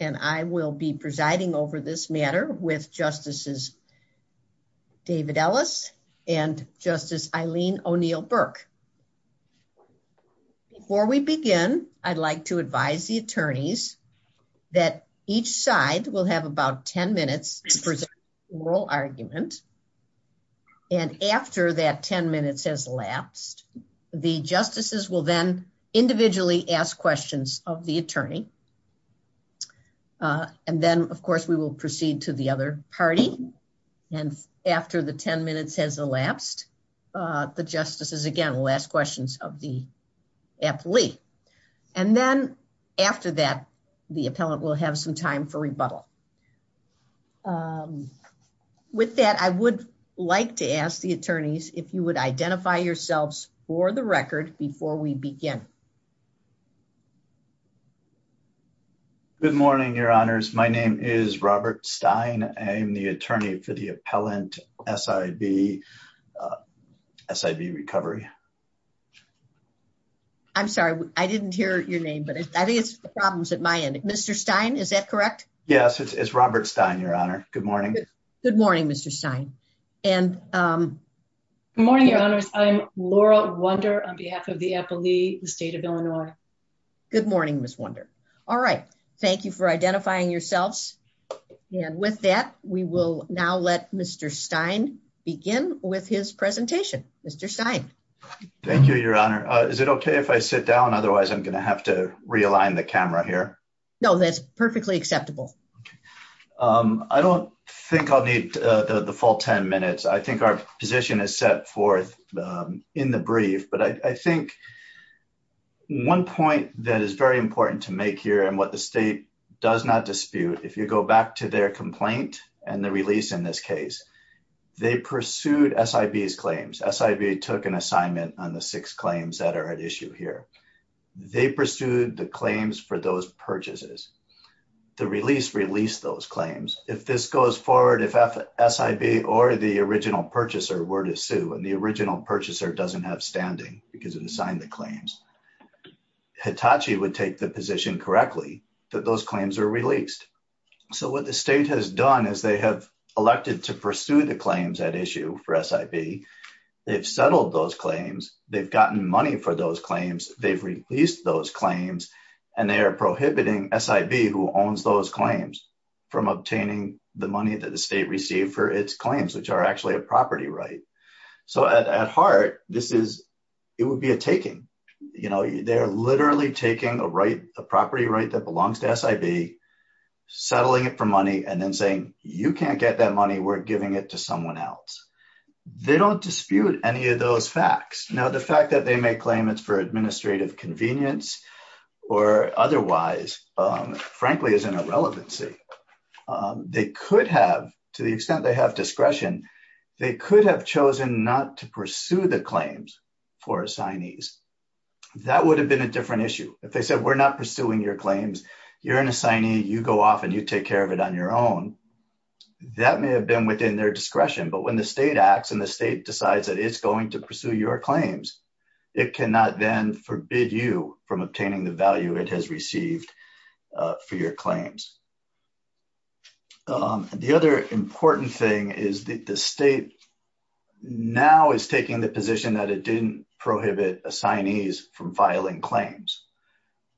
And I will be presiding over this matter with Justices David Ellis and Justice Eileen O'Neill-Burke. Before we begin, I'd like to advise the attorneys that each side will have about 10 minutes to present their oral arguments. And after that 10 minutes has elapsed, the justices will then individually ask questions of the attorney. And then, of course, we will proceed to the other party. And after the 10 minutes has elapsed, the justices again will ask questions of the athlete. And then after that, the appellant will have some time for rebuttal. With that, I would like to ask the attorneys if you would identify yourselves for the record before we begin. Good morning, Your Honors. My name is Robert Stein. I am the attorney for the appellant, SID Recovery. I'm sorry. I didn't hear your name, but I think it's problems at my end. Mr. Stein, is that correct? Yes. It's Robert Stein, Your Honor. Good morning. Good morning, Mr. Stein. Good morning, Your Honors. Good morning. I'm Laurel Wunder on behalf of the athlete, the state of Illinois. Good morning, Ms. Wunder. All right. Thank you for identifying yourselves. And with that, we will now let Mr. Stein begin with his presentation. Mr. Stein. Thank you, Your Honor. Is it okay if I sit down? Otherwise, I'm going to have to realign the camera here. No, that's perfectly acceptable. I don't think I'll need the full 10 minutes. I think our position is set forth in the brief. But I think one point that is very important to make here and what the state does not dispute, if you go back to their complaint and the release in this case, they pursued SIV's claims. SIV took an assignment on the six claims that are at issue here. They pursued the claims for those purchases. The release released those claims. If this goes forward, if SIV or the original purchaser were to sue and the original purchaser doesn't have standing because it assigned the claims, Hitachi would take the position correctly that those claims are released. So what the state has done is they have elected to pursue the claims at issue for SIV. They've settled those claims. They've gotten money for those claims. They've released those claims. And they are prohibiting SIV who owns those claims from obtaining the money that the state received for its claims, which are actually a property right. So at heart, this is, it would be a taking. You know, they're literally taking a right, a property right that belongs to SIV, settling it for money, and then saying, you can't get that money. We're giving it to someone else. They don't dispute any of those facts. Now, the fact that they may claim it's for administrative convenience or otherwise, frankly, is an irrelevancy. They could have, to the extent they have discretion, they could have chosen not to pursue the claims for assignees. That would have been a different issue. If they said, we're not pursuing your claims, you're an assignee, you go off and you take care of it on your own, that may have been within their discretion. But when the state acts and the state decides that it's going to pursue your claims, it cannot then forbid you from obtaining the value it has received for your claims. The other important thing is that the state now is taking the position that it didn't prohibit assignees from filing claims.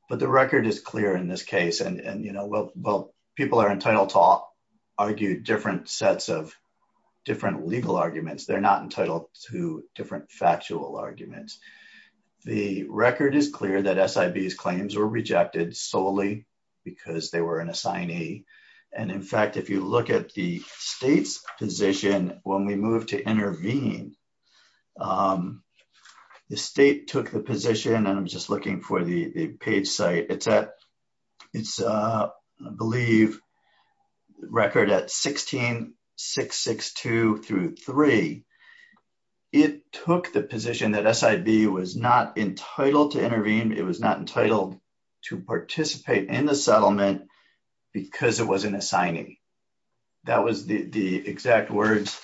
But the record is clear in this case. And, you know, while people are entitled to argue different sets of different legal arguments, they're not entitled to different factual arguments. The record is clear that SIB's claims were rejected solely because they were an assignee. And in fact, if you look at the state's position when we moved to intervene, the state took the position, and I'm just looking for the page site. It's at, I believe, record at 16662 through 3. It took the position that SIB was not entitled to intervene. It was not entitled to participate in the settlement because it was an assignee. That was the exact words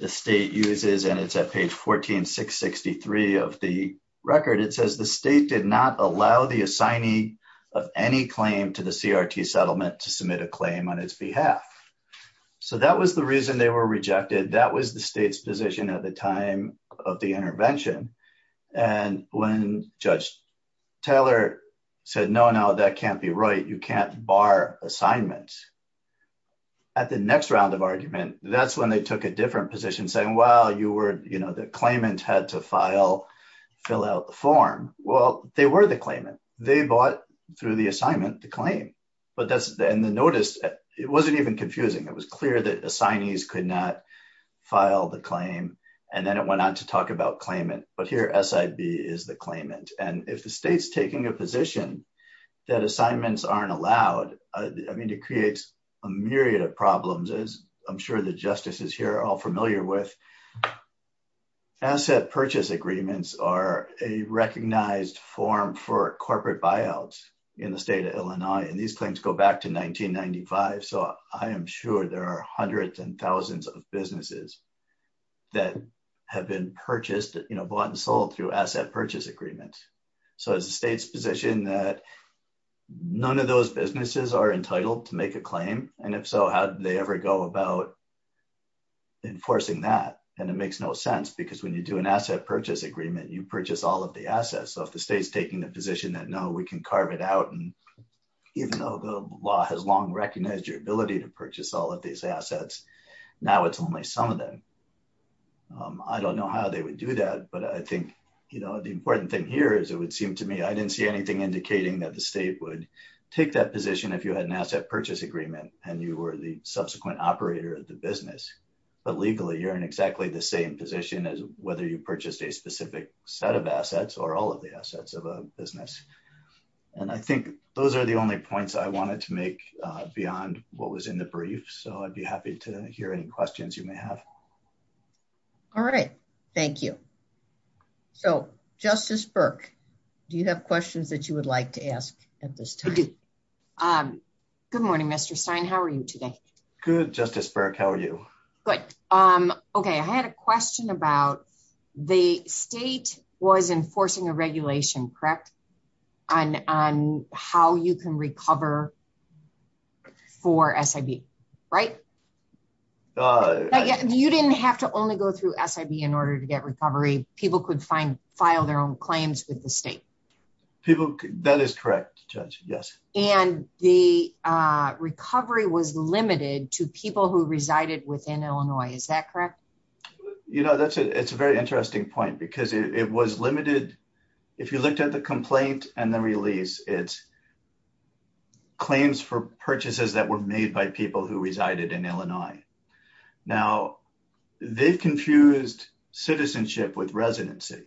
the state uses, and it's at page 14663 of the record. It says the state did not allow the assignee of any claim to the CRT settlement to submit a claim on its behalf. So that was the reason they were rejected. That was the state's position at the time of the intervention. And when Judge Taylor said, no, no, that can't be right. You can't bar assignments. At the next round of argument, that's when they took a different position saying, well, the claimant had to file, fill out the form. Well, they were the claimant. They bought through the assignment the claim. But in the notice, it wasn't even confusing. It was clear that assignees could not file the claim, and then it went on to talk about claimant. But here, SIB is the claimant. And if the state's taking a position that assignments aren't allowed, I mean, it creates a myriad of problems as I'm sure the justices here are all familiar with. Asset purchase agreements are a recognized form for corporate buyouts in the state of Illinois, and these claims go back to 1995. So I am sure there are hundreds and thousands of businesses that have been purchased, you know, bought and sold through asset purchase agreements. So is the state's position that none of those businesses are entitled to make a claim? And if so, how did they ever go about enforcing that? And it makes no sense because when you do an asset purchase agreement, you purchase all of the assets. So if the state's taking the position that, no, we can carve it out, and even though the law has long recognized your ability to purchase all of these assets, now it's only some of them. I don't know how they would do that, but I think, you know, the important thing here is it would seem to me I didn't see anything indicating that the state would take that position if you had an asset purchase agreement and you were the subsequent operator of the business. But legally, you're in exactly the same position as whether you purchased a specific set of assets or all of the assets of a business. And I think those are the only points I wanted to make beyond what was in the brief, so I'd be happy to hear any questions you may have. All right. Thank you. So, Justice Burke, do you have questions that you would like to ask at this time? Good morning, Mr. Stein. How are you today? Good, Justice Burke. How are you? Good. Okay, I had a question about the state was enforcing a regulation, correct, on how you can recover for SIB, right? You didn't have to only go through SIB in order to get recovery. People could file their own claims with the state. People, that is correct, Judge, yes. And the recovery was limited to people who resided within Illinois. Is that correct? You know, that's a very interesting point because it was limited. If you looked at the complaint and the release, it's claims for purchases that were made by people who resided in Illinois. Now, they confused citizenship with residency.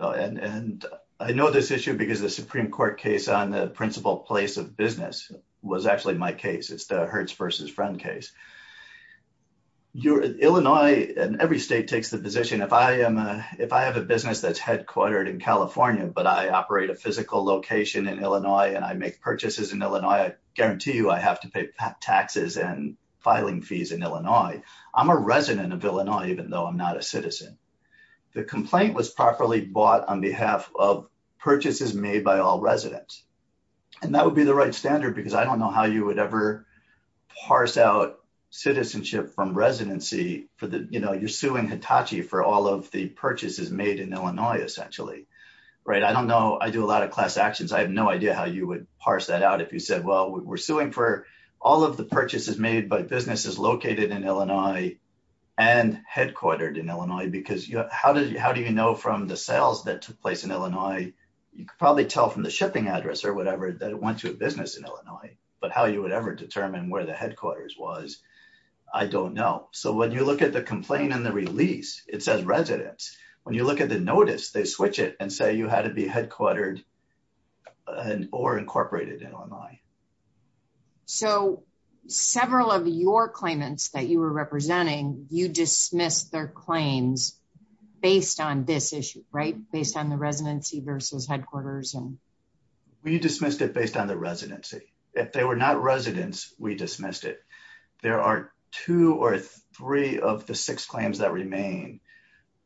And I know this issue because the Supreme Court case on the principal place of business was actually my case. It's the Hertz versus Frum case. Illinois and every state takes the position, if I have a business that's headquartered in California but I operate a physical location in Illinois and I make purchases in Illinois, I guarantee you I have to pay taxes and filing fees in Illinois. I'm a resident of Illinois even though I'm not a citizen. The complaint was properly bought on behalf of purchases made by all residents. And that would be the right standard because I don't know how you would ever parse out citizenship from residency for the, you know, you're suing Hitachi for all of the purchases made in Illinois essentially, right? I don't know. I do a lot of class actions. I have no idea how you would parse that out if you said, well, we're suing for all of the purchases made by businesses located in Illinois and headquartered in Illinois because, you know, how do you know from the sales that took place in Illinois? You could probably tell from the shipping address or whatever that it went to a business in Illinois but how you would ever determine where the headquarters was, I don't know. So, when you look at the complaint and the release, it says residents. When you look at the notice, they switch it and say you had to be headquartered or incorporated in Illinois. So, several of your claimants that you were representing, you dismissed their claims based on this issue, right? Based on the residency versus headquarters and. We dismissed it based on the residency. If they were not residents, we dismissed it. There are two or three of the six claims that remain.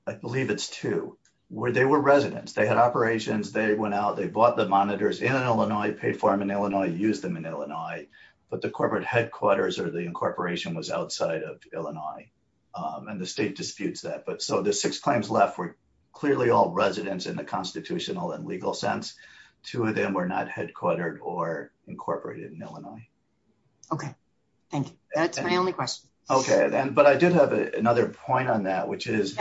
I believe it's two. Where they were residents. They had operations. They went out. They bought the monitors in Illinois, paid for them in Illinois, used them in Illinois. But the corporate headquarters or the incorporation was outside of Illinois. And the state disputes that. But so, the six claims left were clearly all residents in the constitutional and legal sense. Two of them were not headquartered or incorporated in Illinois. Okay. Thank you. That's my only question. Okay. But I did have another point on that, which is,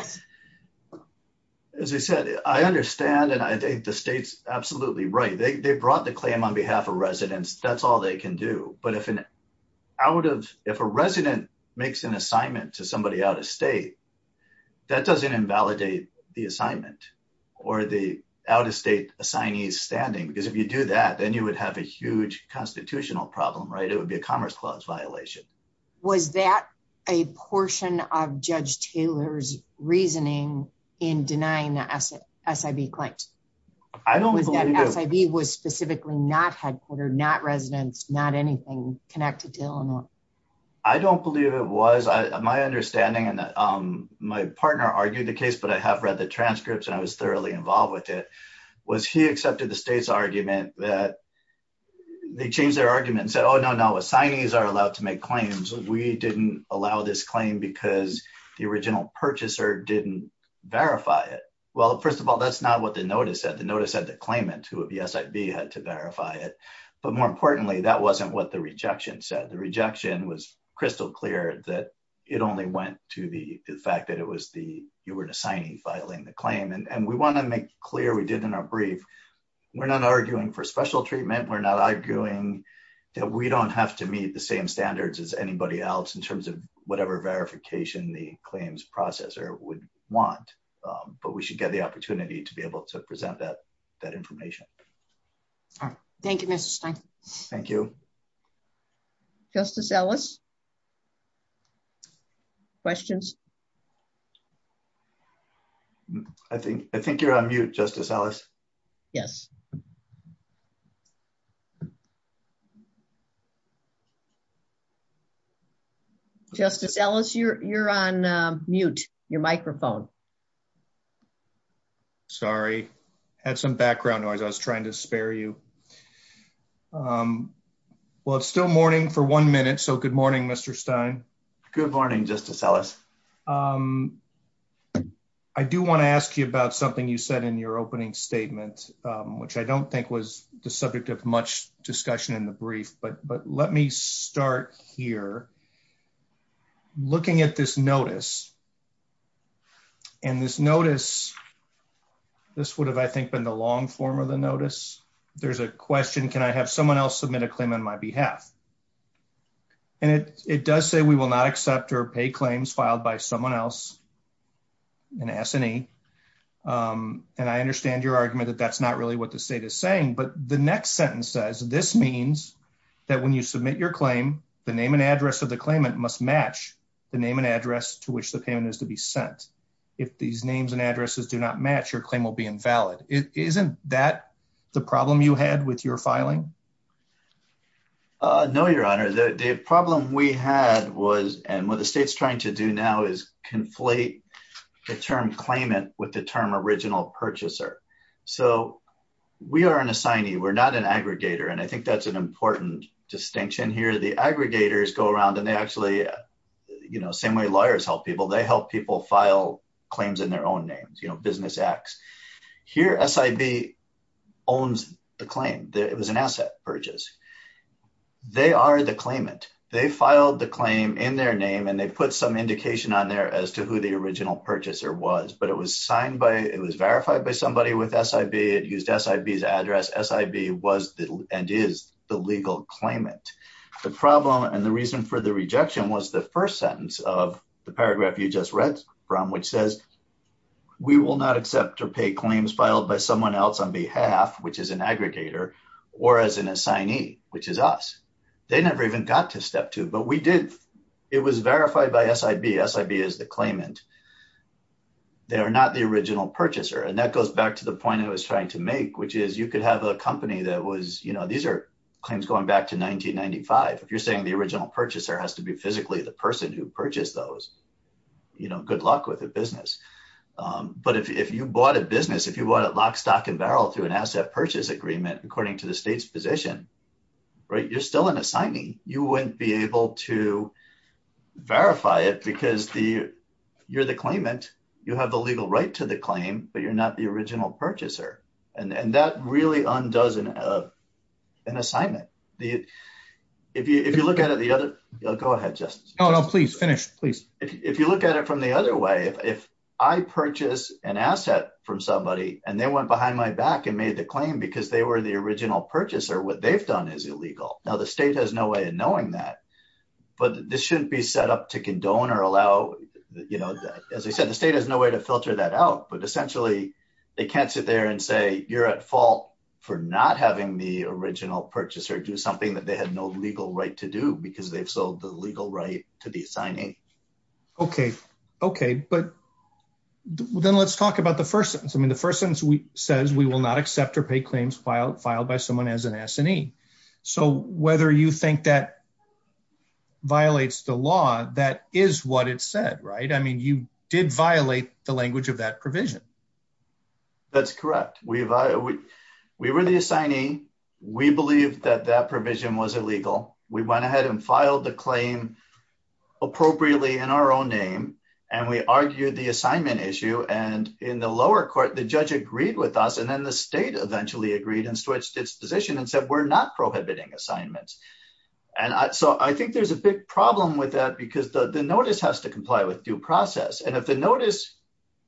as you said, I understand. And I think the state's absolutely right. They brought the claim on behalf of residents. That's all they can do. But if an out of, if a resident makes an assignment to somebody out of state, that doesn't invalidate the assignment or the out-of-state assignee's standing. Because if you do that, then you would have a huge constitutional problem, right? It would be a Commerce Clause violation. Was that a portion of Judge Taylor's reasoning in denying the SIV claims? I don't believe it. Was that SIV was specifically not headquartered, not residents, not anything connected to Illinois? I don't believe it was. My understanding, and my partner argued the case, but I have read the transcripts and I was thoroughly involved with it, was he accepted the state's argument that they changed their argument and said, oh, no, no. Residents are allowed to make claims. We didn't allow this claim because the original purchaser didn't verify it. Well, first of all, that's not what the notice said. The notice said the claimant who had the SIV had to verify it. But more importantly, that wasn't what the rejection said. The rejection was crystal clear that it only went to the fact that it was the, you were an assignee filing the claim. And we want to make clear, we did in our brief, we're not arguing for special treatment. We're not arguing that we don't have to meet the same standards as anybody else in terms of whatever verification the claims processor would want. But we should get the opportunity to be able to present that information. All right. Thank you, Mr. Stein. Thank you. Justice Ellis? Questions? I think you're on mute, Justice Ellis. Yes. Justice Ellis, you're on mute. Your microphone. Sorry. Had some background noise. I was trying to spare you. Well, it's still morning for one minute, so good morning, Mr. Stein. Good morning, Justice Ellis. I do want to ask you about something you said in your opening statement, which I don't think was the subject of much discussion in the brief. But let me start here. Looking at this notice, and this notice, this would have, I think, been the long form of the notice. There's a question, can I have someone else submit a claim on my behalf? And it does say we will not accept or pay claims filed by someone else, an S&E. And I understand your argument that that's not really what the state is saying. But the next sentence says, this means that when you submit your claim, the name and address of the claimant must match the name and address to which the payment is to be sent. If these names and addresses do not match, your claim will be invalid. Isn't that the problem you had with your filing? No, Your Honor. The problem we had was, and what the state's trying to do now, is conflate the term claimant with the term original purchaser. So we are an assignee. We're not an aggregator. And I think that's an important distinction here. The aggregators go around, and they actually, you know, same way lawyers help people. They help people file claims in their own names, you know, business X. Here, SIB owns the claim. It was an asset purchase. They are the claimant. They filed the claim in their name, and they put some indication on there as to who the original purchaser was. But it was signed by, it was verified by somebody with SIB. It used SIB's address. SIB was and is the legal claimant. The problem and the reason for the rejection was the first sentence of the paragraph you just read from, which says, we will not accept or pay claims filed by someone else on behalf, which is an aggregator, or as an assignee, which is us. They never even got to step two, but we did. It was verified by SIB. SIB is the claimant. They are not the original purchaser. And that goes back to the point I was trying to make, which is you could have a company that was, you know, these are claims going back to 1995. If you're saying the original purchaser has to be physically the person who purchased those, you know, good luck with the business. But if you bought a business, if you bought it lock, stock, and barrel through an asset purchase agreement, according to the state's position, right, you're still an assignee. You wouldn't be able to verify it because you're the claimant. You have the legal right to the claim, but you're not the original purchaser. And that really undoes an assignment. If you look at it the other, go ahead, Justin. No, no, please, finish, please. If you look at it from the other way, if I purchase an asset from somebody and they went behind my back and made the claim because they were the original purchaser, what they've done is illegal. Now the state has no way of knowing that, but this shouldn't be set up to condone or allow, you know, as I said, the state has no way to filter that out, but essentially they can't sit there and say, you're at fault for not having the original purchaser do something that they had no legal right to do because they've sold the legal right to be Okay. Okay. But then let's talk about the first sentence. I mean, the first sentence says, we will not accept or pay claims filed by someone as an assignee. So whether you think that violates the law, that is what it said, right? I mean, you did violate the language of that provision. That's correct. We were the assignee. We believe that that provision was illegal. We went ahead and filed the claim appropriately in our own name. And we argued the assignment issue. And in the lower court, the judge agreed with us. And then the state eventually agreed and switched its position and said, we're not prohibiting assignments. And so I think there's a big problem with that because the notice has to comply with due process. And if the notice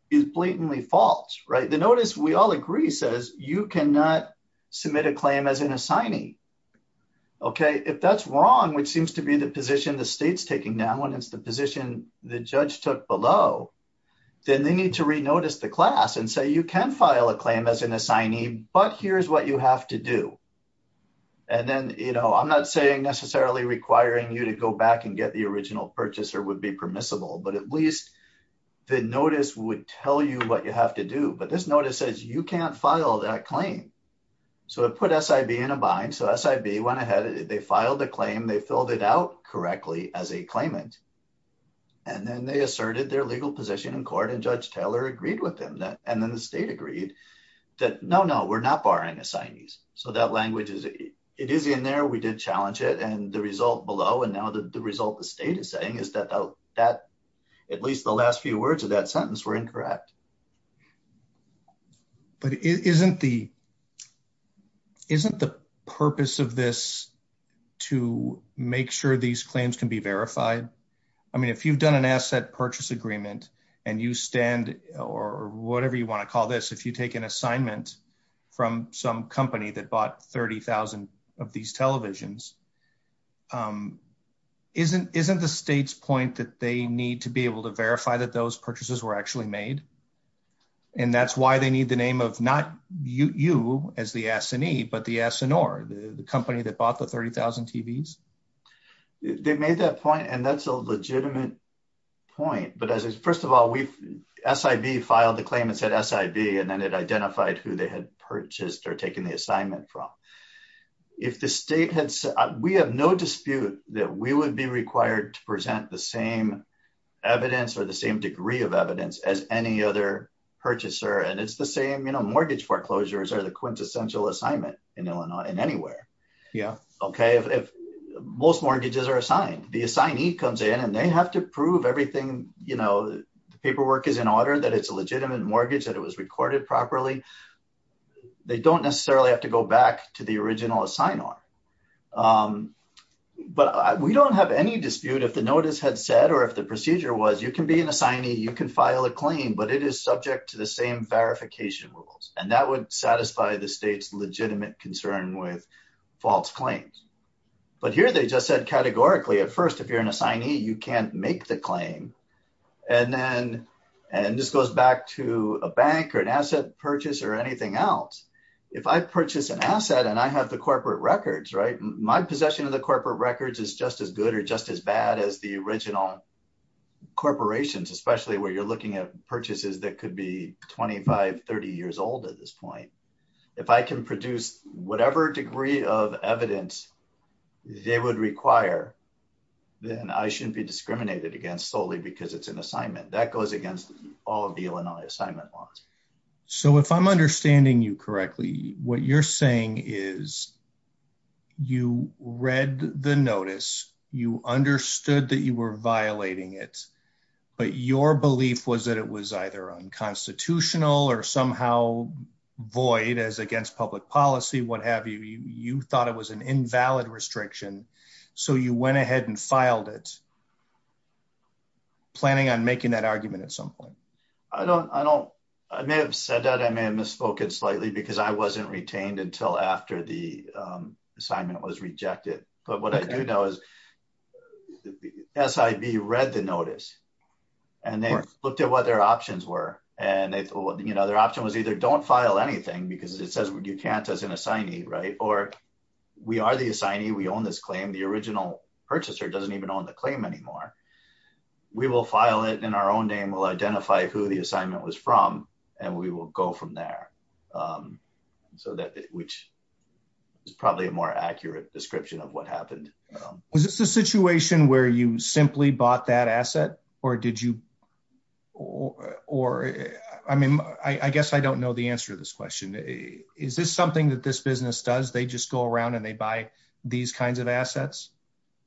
is blatantly false, right? The notice we all agree says you cannot submit a claim as an assignee. Okay. If that's wrong, which seems to be the position the state's taking now when it's the position the judge took below, then they need to re-notice the class and say, you can file a claim as an assignee, but here's what you have to do. And then, you know, I'm not saying necessarily requiring you to go back and get the original purchase or would be permissible, but at least the notice would tell you what you have to do. But this notice says you can't file that claim. So it put SIB in a bind. So SIB went ahead, they filed the claim, they filled it out correctly as a claimant. And then they asserted their legal position in court and judge Taylor agreed with him that, and then the state agreed that no, no, we're not barring assignees. So that language is, it is in there. We did challenge it and the result below. And now that the result the state is saying is that that at least the last few words of that sentence were incorrect. But isn't the, isn't the purpose of this to make sure these claims can be verified. I mean, if you've done an asset purchase agreement and you stand or whatever you want to call this, if you take an assignment from some company that bought 30,000 of these televisions, isn't, isn't the state's point that they need to be able to verify that those And that's why they need the name of not you as the assignee, but the SNR, the company that bought the 30,000 TVs. They made that point. And that's a legitimate point, but as is, first of all, we've SIV filed a claim and said SIV, and then it identified who they had purchased or taken the assignment from if the state had, we have no dispute that we would be required to present the same evidence or the same degree of evidence as any other purchaser. And it's the same, you know, mortgage foreclosures are the quintessential assignment in Illinois and anywhere. Yeah. Okay. If most mortgages are assigned, the assignee comes in and they have to prove everything, you know, paperwork is in order that it's a legitimate mortgage, that it was recorded properly. They don't necessarily have to go back to the original assign on, but we don't have any dispute if the notice had said, or if the procedure was you can be an assignee, you can file a claim, but it is subject to the same verification rules. And that would satisfy the state's legitimate concern with false claims. But here they just said categorically at first, if you're an assignee, you can't make the claim. And then, and this goes back to a bank or an asset purchase or anything else. If I purchase an asset and I have the corporate records, right? My possession of the corporate records is just as good or just as bad as the corporations, especially where you're looking at purchases that could be 25, 30 years old at this point, if I can produce whatever degree of evidence they would require, then I shouldn't be discriminated against solely because it's an assignment that goes against all of the Illinois assignment laws. So if I'm understanding you correctly, what you're saying is you read the notice, you understood that you were violating it, but your belief was that it was either unconstitutional or somehow void as against public policy, what have you, you thought it was an invalid restriction. So you went ahead and filed it planning on making that argument at some point. I don't, I don't, I may have said that I may have misspoken slightly because I wasn't retained until after the assignment was rejected. But what I do know is SIV read the notice and they looked at what their options were. And they, you know, their option was either don't file anything because it says you can't as an assignee, right? Or we are the assignee. We own this claim. The original purchaser doesn't even own the claim anymore. We will file it in our own name. We'll identify who the assignment was from and we will go from there. So that, which is probably a more accurate description of what happened. Is this a situation where you simply bought that asset or did you, or, or, I mean, I guess I don't know the answer to this question. Is this something that this business does? They just go around and they buy these kinds of assets.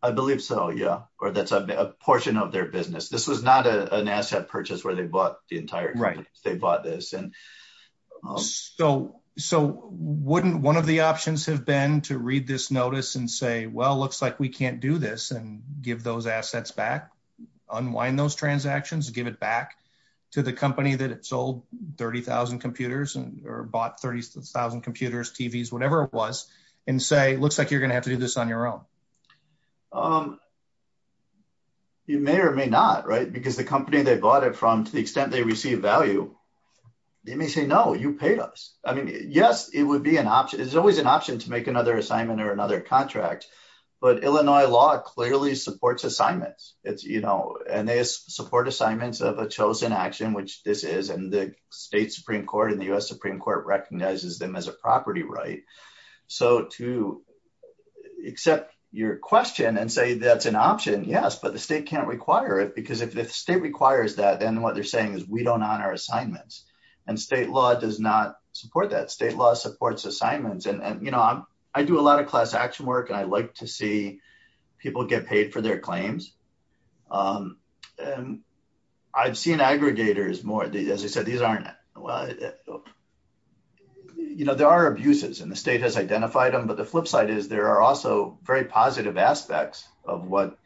I believe so. Yeah. Or that's a portion of their business. This was not an asset purchase where they bought the entire, right. They bought this. And so, so wouldn't one of the options have been to read this notice and say, well, it looks like we can't do this and give those assets back, unwind those transactions and give it back to the company that sold 30,000 computers or bought 30,000 computers, TVs, whatever it was and say, it looks like you're going to have to do this on your own. You may or may not, right? Because the company they bought it from to the extent they receive value, you may say, no, you pay us. I mean, yes, it would be an option. It's always an option to make another assignment or another contract, but Illinois law clearly supports assignments. It's, you know, and they support assignments of a chosen action, which this is, and the state Supreme court and the U S Supreme court recognizes them as a property, right? So to accept your question and say that's an option. Yes. But the state can't require it because if the state requires that, then what they're saying is we don't honor assignments and state law does not support that state law supports assignments. And, and, you know, I'm, I do a lot of class action work and I like to see people get paid for their claims. And I've seen aggregators more. As I said, these aren't, well, you know, there are abuses and the state has identified them, but the flip side is there are also very positive aspects of what,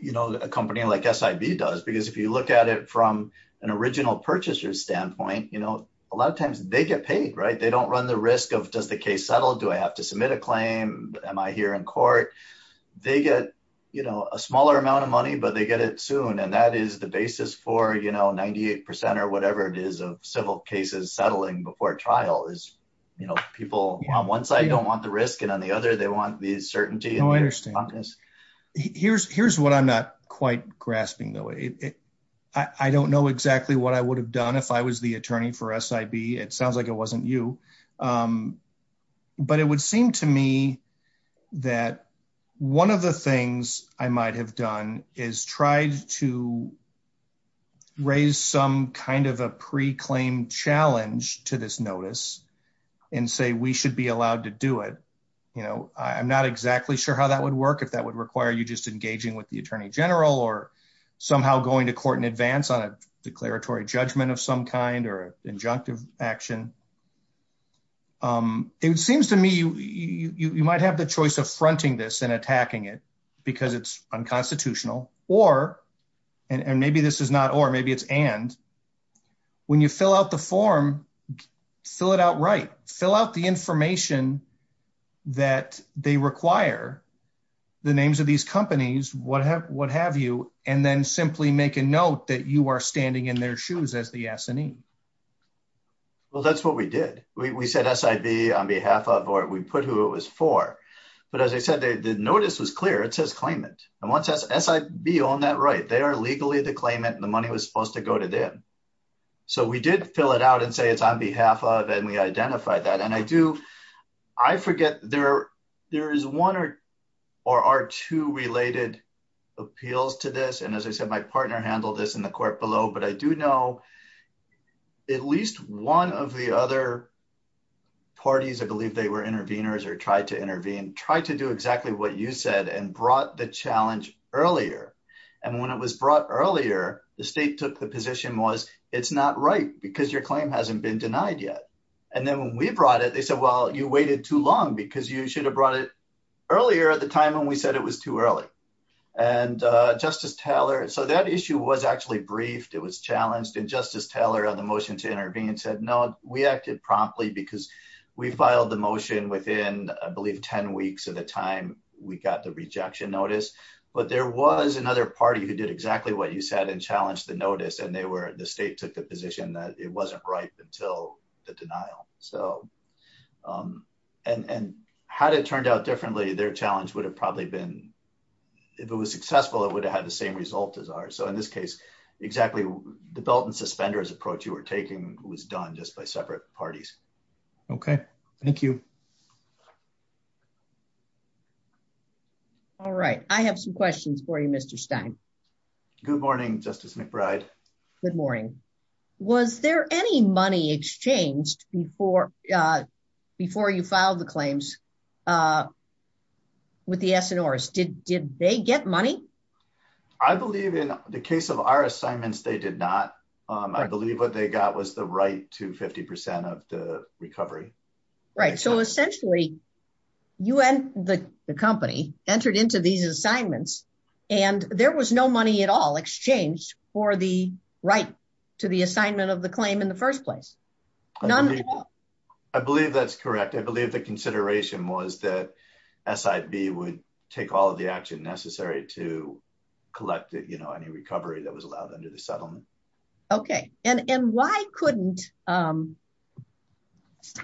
you know, a company like SIV does, because if you look at it from an original purchaser standpoint, you know, a lot of times they get paid, right? They don't run the risk of, does the case settle? Do I have to submit a claim? Am I here in court? They get, you know, a smaller amount of money, but they get it soon. And that is the basis for, you know, 98% or whatever it is of civil cases settling before trial is, you know, people on one side don't want the risk and on the other, they want the certainty. Here's, here's what I'm not quite grasping though. I don't know exactly what I would have done if I was the attorney for SIV. It sounds like it wasn't you. But it would seem to me that one of the things I might have done is tried to raise some kind of a pre-claim challenge to this notice. And say, we should be allowed to do it. You know, I'm not exactly sure how that would work. If that would require you just engaging with the attorney general or somehow going to court in advance on declaratory judgment of some kind or injunctive action. It seems to me, you might have the choice of fronting this and attacking it because it's unconstitutional or, and maybe this is not, or maybe it's and, when you fill out the form, fill it out, right? Fill out the information that they require, the names of these companies, what have, what have you and then simply make a note that you are standing in their shoes as the S&E. Well, that's what we did. We said SIV on behalf of, or we put who it was for. But as I said, the notice is clear. It says claim it. And once SIV owned that right, they are legally to claim it and the money was supposed to go to them. So we did fill it out and say, it's on behalf of, and we identified that. And I do, I forget there, there is one or are two related appeals to this. And as I said, my partner handled this in the court below, but I do know, at least one of the other parties, I believe they were interveners or tried to intervene, tried to do exactly what you said and brought the challenge earlier. And when it was brought earlier, the state took the position was it's not right because your claim hasn't been denied yet. And then when we brought it, they said, well, you waited too long because you should have brought it earlier at the time when we said it was too early. And Justice Taylor, so that issue was actually briefed. It was challenged. And Justice Taylor on the motion to intervene said, no, we acted promptly because we filed the motion within, I believe 10 weeks of the time we got the rejection notice. But there was another party who did exactly what you said and challenged the notice. And they were, the state took the position that it wasn't right until the denial. So, and how did it turned out differently? Their challenge would have probably been if it was successful, it would have had the same result as ours. So in this case, exactly the belt and suspenders approach you were taking was done just by separate parties. Okay. Thank you. All right. I have some questions for you, Mr. Stein. Good morning. Justice McBride. Good morning. Was there any money exchanged before, before you filed the claims with the SNRs? Did, did they get money? I believe in the case of our assignments, they did not. I believe what they got was the right to 50% of the recovery. Right. So essentially you and the company entered into these assignments and there was no money at all exchanged for the right to the assignment of the claim in the first place. I believe that's correct. I believe the consideration was that SIV would take all of the action necessary to collect that, you know, any recovery that was allowed under the settlement. Okay. And, and why couldn't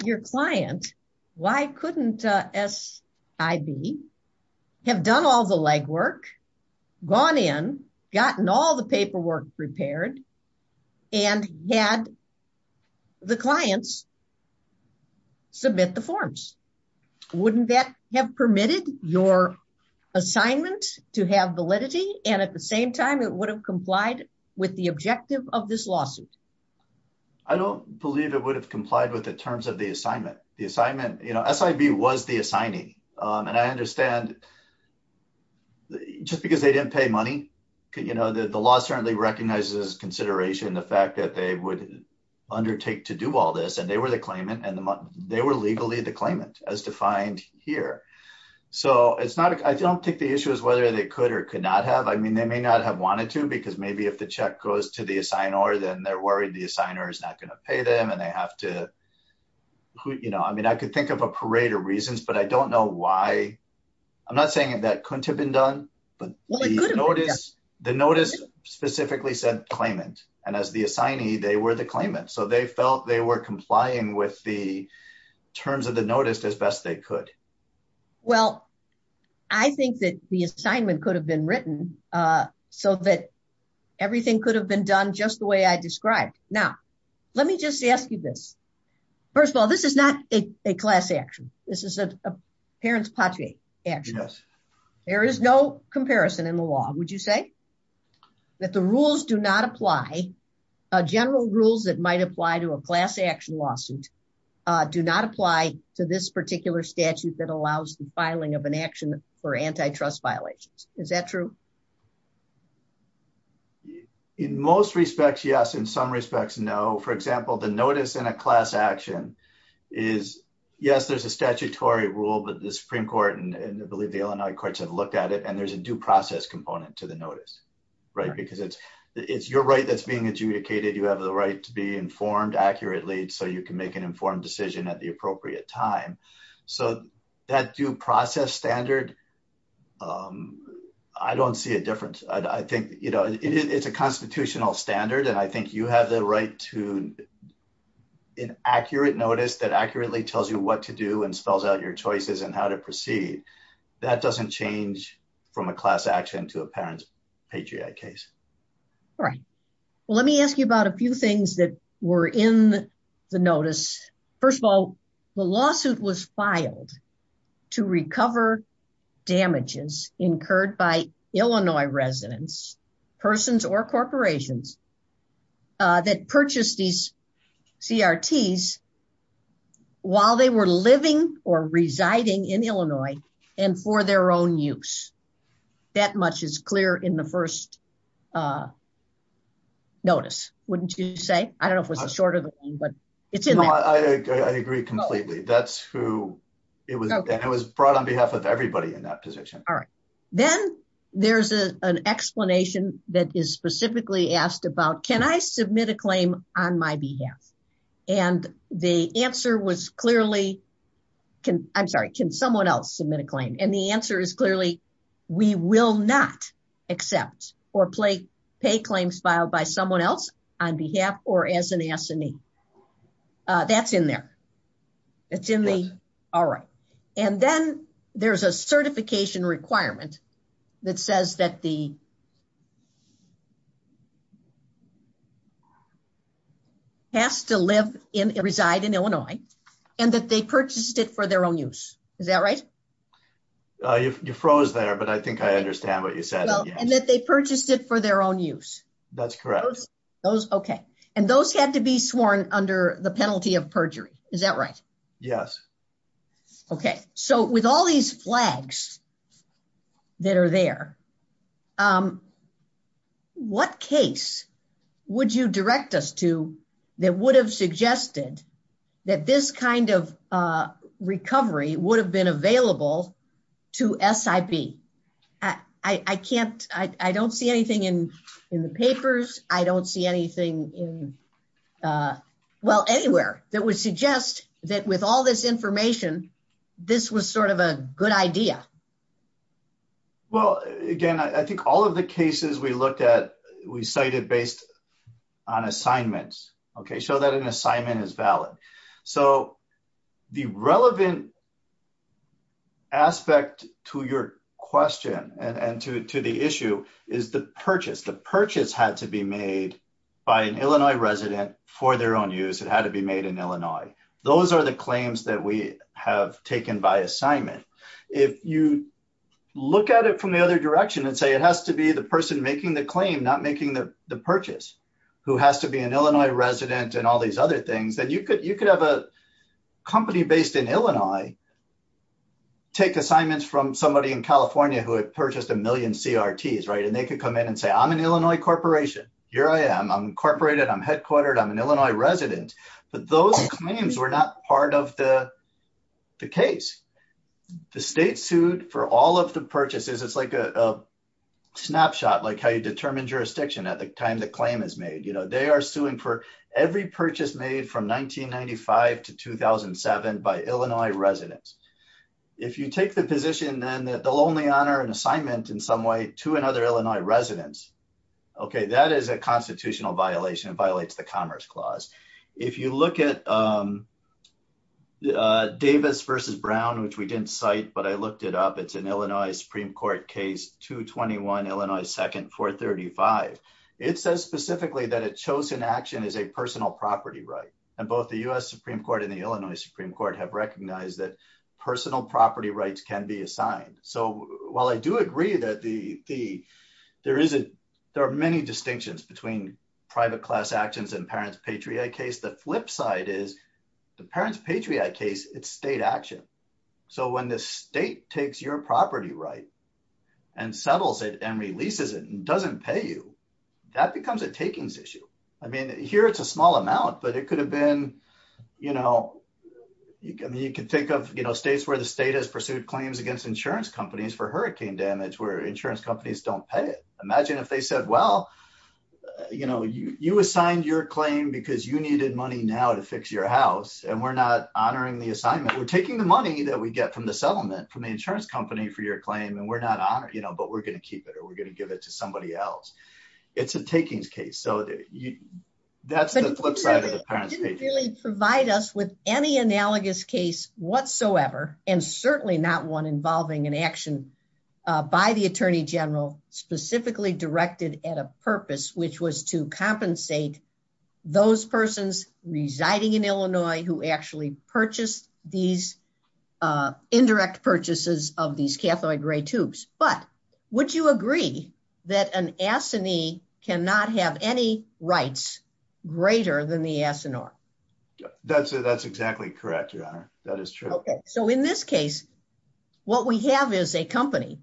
your client, why couldn't SIV have done all the legwork, gone in, gotten all the paperwork prepared and had the clients submit the forms? Wouldn't that have permitted your assignment to have validity. And at the same time, it would have complied with the objective of this lawsuit. I don't believe it would have complied with the terms of the assignment. The assignment, you know, SIV was the assigning. And I understand just because they didn't pay money, you know, the law certainly recognizes consideration, the fact that they would undertake to do all this and they were the claimant and they were legally the claimant as defined here. So it's not, I don't think the issue is whether they could or could not have, I mean, they may not have wanted to, because maybe if the check goes to the assigner, then they're worried the assigner is not going to pay them. And they have to, who, you know, I mean, I could think of a parade of reasons, but I don't know why I'm not saying that couldn't have been done, but the notice specifically said claimant and as the assignee, they were the claimant. So they felt they were complying with the terms of the notice as best they could. Well, I think that the assignment could have been written. So that everything could have been done just the way I described. Now, let me just ask you this. First of all, this is not a class action. This is a parent's party action. There is no comparison in the law. Would you say that the rules do not apply? A general rules that might apply to a class action lawsuit do not apply to this particular statute that allows the filing of an action for antitrust violations. Is that true? In most respects? Yes. In some respects, no. For example, the notice in a class action is yes, there's a statutory rule, but the Supreme court and I believe the Illinois courts have looked at it and there's a due process component to the notice, right? Because it's, it's your right that's being adjudicated. You have the right to be informed accurately so you can make an informed decision at the appropriate time. So that due process standard, I don't see a difference. I think, you know, it's a constitutional standard and I think you have the right to an accurate notice that accurately tells you what to do and spells out your choices and how to proceed. That doesn't change from a class action to a parent's Patriot case. All right. Well, let me ask you about a few things that were in the notice. First of all, the lawsuit was filed to recover damages incurred by Illinois residents, persons or corporations that purchased these CRTs while they were living or residing in Illinois and for their own use. That much is clear in the first notice, wouldn't you say? I don't know if it was a shorter than one, but it's not. I agree completely. That's who it was. It was brought on behalf of everybody in that position. All right. Then there's an explanation that is specifically asked about, can I submit a claim on my behalf? And the answer was clearly, can I'm sorry, can someone else submit a claim? And the answer is clearly, we will not accept or play pay claims filed by someone else on behalf or as an attorney. That's in there. It's in the, all right. And then there's a certification requirement that says that the has to live in, reside in Illinois, and that they purchased it for their own use. Is that right? You froze there, but I think I understand what you said. And that they purchased it for their own use. That's correct. Those, okay. And those have to be sworn under the penalty of perjury. Is that right? Yes. Okay. So with all these flags that are there, what case would you direct us to that would have suggested that this kind of recovery would have been available to S I B I can't, I don't see anything in the papers. I don't see anything in well anywhere that would suggest that with all this information, this was sort of a good idea. Well, again, I think all of the cases we looked at, we cited based on assignments. Okay. So that an assignment is valid. So the relevant aspect to your question and to, to the issue is the purchase. The purchase had to be made by an Illinois resident for their own use. It had to be made in Illinois. Those are the claims that we have taken by assignment. If you look at it from the other direction and say it has to be the person making the claim, not making the purchase, who has to be an Illinois resident and all these other things. And you could, you could have a company based in Illinois, take assignments from somebody in California who had purchased a million CRTs. Right. And they could come in and say, I'm an Illinois corporation. Here I am. I'm incorporated. I'm headquartered. I'm an Illinois resident. But those claims were not part of the case. The state sued for all of the purchases. It's like a snapshot, like how you determine jurisdiction at the time the claim is made. You know, they are suing for every purchase made from 1995 to 2007 by Illinois residents If you take the position, then that they'll only honor an assignment in some way to another Illinois residents. Okay. That is a constitutional violation. It violates the commerce clause. If you look at Davis versus Brown, which we didn't cite, but I looked it up. It's an Illinois Supreme court case, 221, Illinois 2nd, 435. It says specifically that a chosen action is a personal property right. And both the U S Supreme court and the Illinois Supreme court have recognized that personal property rights can be assigned. So while I do agree that the fee, there isn't, there are many distinctions between private class actions and parents, Patriot case. The flip side is the parents, Patriot case, it's state action. So when the state takes your property right and settles it and releases it and doesn't pay you, that becomes a takings issue. I mean, here it's a small amount, but it could have been, you know, you can, you can think of states where the state has pursued claims against insurance companies for hurricane damage, where insurance companies don't pay. Imagine if they said, well, you know, you assigned your claim because you needed money now to fix your house. And we're not honoring the assignment. We're taking the money that we get from the settlement from the insurance company for your claim. And we're not honored, you know, but we're going to keep it or we're going to give it to somebody else. Would you really provide us with any analogous case whatsoever? And certainly not one involving an action by the attorney general specifically directed at a purpose, which was to compensate those persons residing in Illinois who actually purchased these indirect purchases of these Catholic gray tubes. But would you agree that an assignee cannot have any rights greater than the That's it. That's exactly correct. That is true. Okay. So in this case, what we have is a company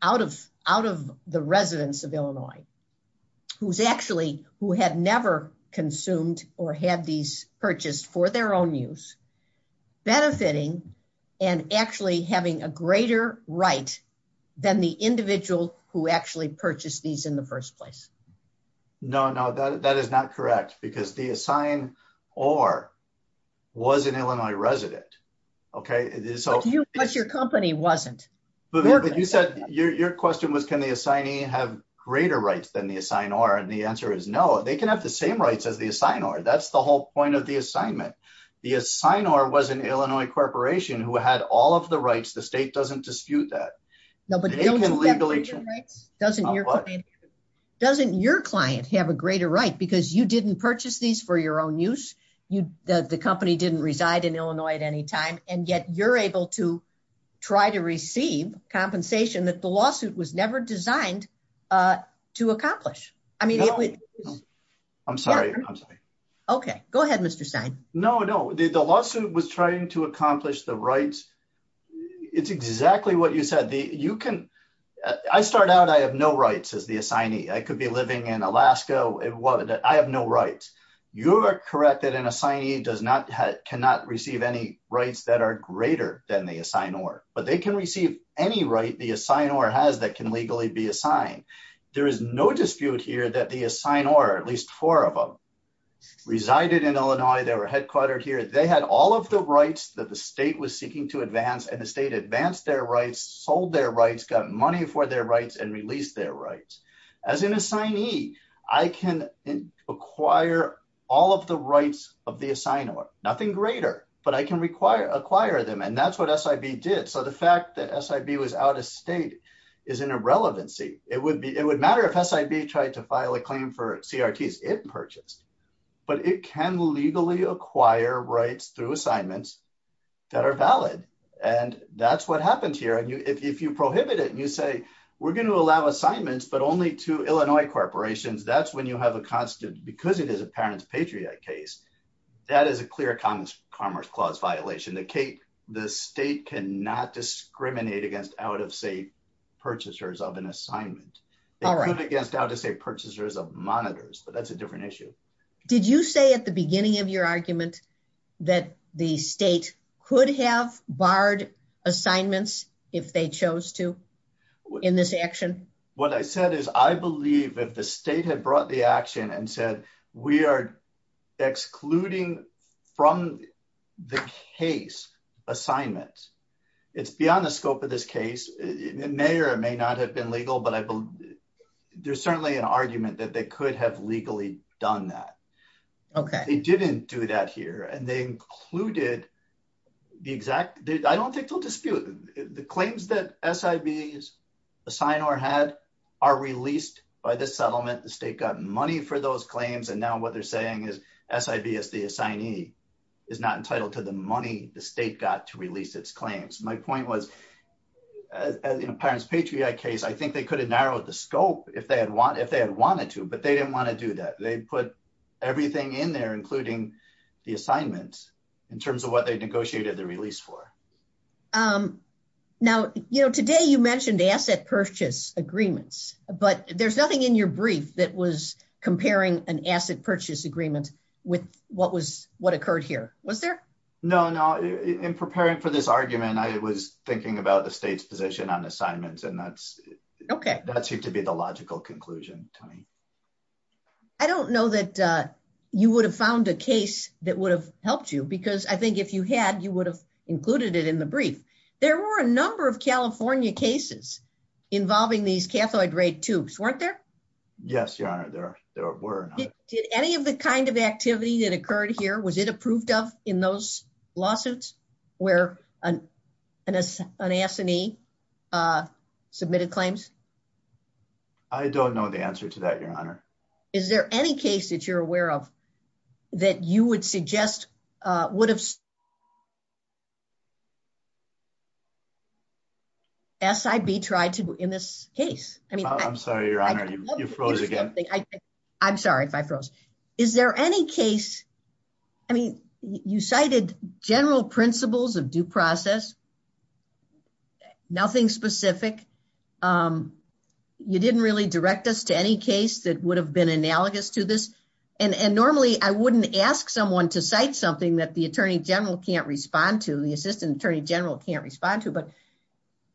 out of, out of the residents of Illinois who's actually, who had never consumed or had these purchased for their own use, benefiting and actually having a greater right than the individual who actually purchased these in the first place. No, no, that is not correct because the assigned or was an Illinois resident. Okay. But your company wasn't. Your question was, can the assignee have greater rights than the assignor? And the answer is no, they can have the same rights as the assignor. That's the whole point of the assignment. The assignor was an Illinois corporation who had all of the rights. The state doesn't dispute that. Doesn't your, doesn't your client have a greater right because you didn't purchase these for your own use. The company didn't reside in Illinois at any time. And yet you're able to try to receive compensation that the lawsuit was never designed to accomplish. I mean, I'm sorry. I'm sorry. Okay, go ahead. Mr. Stein. No, no. The lawsuit was trying to accomplish the rights. It's exactly what you said. You can, I started out. I have no rights as the assignee. I could be living in Alaska. It was that I have no rights. You are correct that an assignee does not have, cannot receive any rights that are greater than the assignor, but they can receive any right. The assignor has that can legally be assigned. There is no dispute here that the assign or at least four of them resided in Illinois. They were headquartered here. They had all of the rights that the state was seeking to advance and the state advanced their rights, sold their rights, got money for their rights and released their rights as an assignee. I can acquire all of the rights of the assignor, nothing greater, but I can require acquire them. And that's what SIB did. So the fact that SIB was out of state is an irrelevancy. It would be, it would matter if SIB tried to file a claim for CRTs it purchased, but it can legally acquire rights through assignments that are valid. And that's what happens here. And you, if you prohibit it and you say, we're going to allow assignments, but only to Illinois corporations, that's when you have a constitute because it is a parent's Patriot case. That is a clear commerce commerce clause violation. The state, the state can not discriminate against out of state purchasers of an assignment, against out of state purchasers of monitors, but that's a different issue. Did you say at the beginning of your argument that the state could have barred assignments if they chose to in this action? What I said is I believe that the state had brought the action and said, we are excluding from the case assignments. It's beyond the scope of this case. It may or may not have been legal, but I believe there's certainly an argument that they could have legally done that. Okay. They didn't do that here. And they included the exact, I don't think they'll dispute it. The claims that SIVs assign or had are released by the settlement. The state got money for those claims. And now what they're saying is SIV as the assignee is not entitled to the money the state got to release its claims. My point was, as in a parent's Patriot case, I think they could have narrowed the scope if they had wanted, if they had wanted to, but they didn't want to do that. They put everything in there, including the assignments in terms of what they negotiated the release for. Now, you know, today you mentioned asset purchase agreements, but there's nothing in your brief that was comparing an asset purchase agreement with what was, what occurred here. Was there? No, no. In preparing for this argument, I was thinking about the state's position on assignments and that's, that seems to be the logical conclusion to me. I don't know that you would have found a case that would have helped you because I think if you had, you would have included it in the brief. There were a number of California cases involving these cathode ray tubes, weren't there? Yes, Your Honor, there were. Did any of the kind of activity that occurred here, was it approved of in those lawsuits where an assignee submitted claims? I don't know the answer to that, Your Honor. Is there any case that you're aware of that you would suggest would have SIB tried to in this case? I'm sorry, Your Honor, you froze again. I'm sorry if I froze. Is there any case, I mean, you cited general principles of due process, nothing specific. You didn't really direct us to any case that would have been analogous to this. And normally I wouldn't ask someone to cite something that the attorney general can't respond to, the assistant attorney general can't respond to, but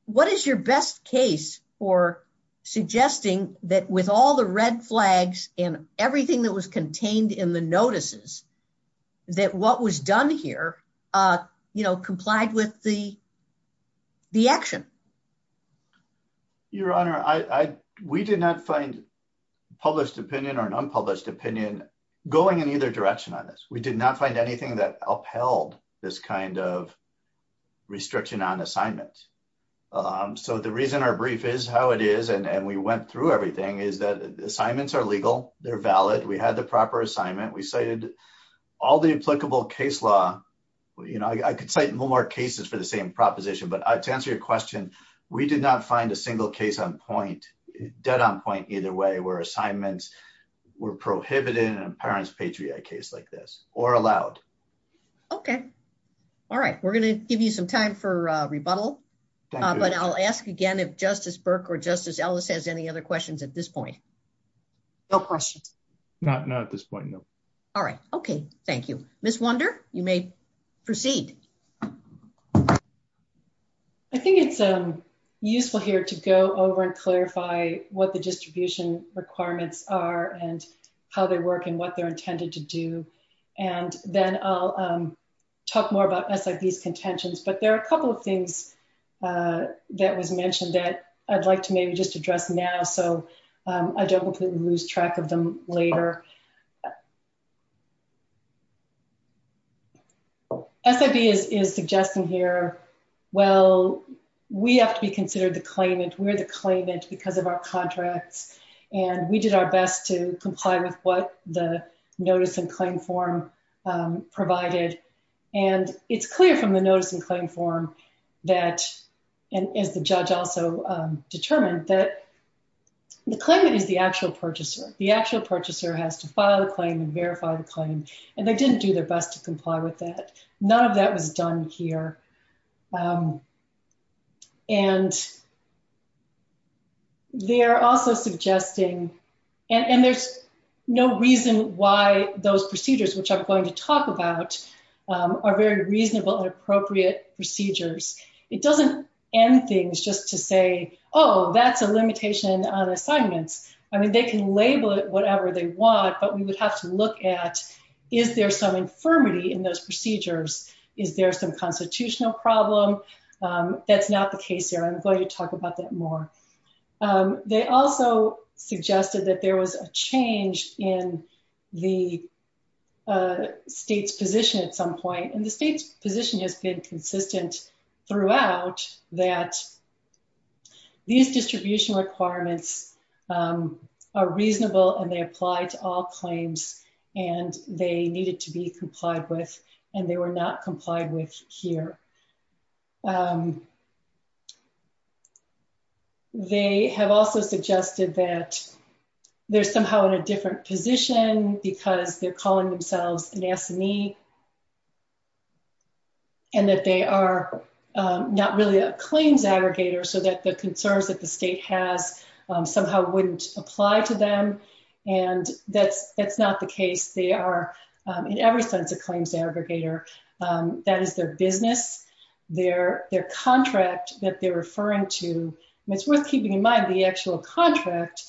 what is your best case for suggesting that with all the red flags and everything that was contained in the notices that what was done here, you know, complied with the action? Your Honor, we did not find published opinion or an unpublished opinion going in either direction on this. We did not find anything that upheld this kind of restriction on assignments. So the reason our brief is how it is, and we went through everything is that assignments are legal. They're valid. We had the proper assignment. We cited all the applicable case law. You know, I could cite more cases for the same proposition, but to answer your question, we did not find a single case on point, dead on point either way, where assignments were prohibited in a parent's Patriot case like this or allowed. Okay. All right. We're going to give you some time for a rebuttal, but I'll ask again, if justice Burke or justice Ellis has any other questions at this point, no question. Not at this point. All right. Okay. Thank you. Miss wonder. You may proceed. I think it's useful here to go over and clarify what the distribution requirements are and how they're working, what they're intended to do. And then I'll talk more about these contentions, but there are a couple of things that was mentioned that I'd like to maybe just address now. So I don't want to lose track of them later. Okay. SID is suggesting here. Well, we have to be considered to claim it. We're to claim it because of our contract and we did our best to comply with what the notice and claim form provided. And it's clear from the notice and claim form that, and the judge also determined that the claimant is the actual purchaser. The actual purchaser has to file a claim and verify the claim. And they didn't do their best to comply with that. None of that was done here. And. They're also suggesting, and there's no reason why those procedures, which I'm going to talk about are very reasonable and appropriate procedures. It doesn't end things just to say, Oh, that's a limitation on assignments. I mean, they can label it whatever they want, but we would have to look at, is there some infirmity in those procedures? Is there some constitutional problem? That's not the case here. I'm going to talk about that more. They also suggested that there was a change in the state's position at some point. And the state's position has been consistent throughout that. These distribution requirements are reasonable and they apply to all claims and they needed to be complied with and they were not complied with here. They have also suggested that they're somehow in a different position because they're calling themselves an SME. And that they are not really a claims aggregator. So that the concerns that the state has somehow wouldn't apply to them. And that it's not the case. They are in every sense of claims aggregator that is their business, their, their contract that they're referring to. It's worth keeping in mind the actual contract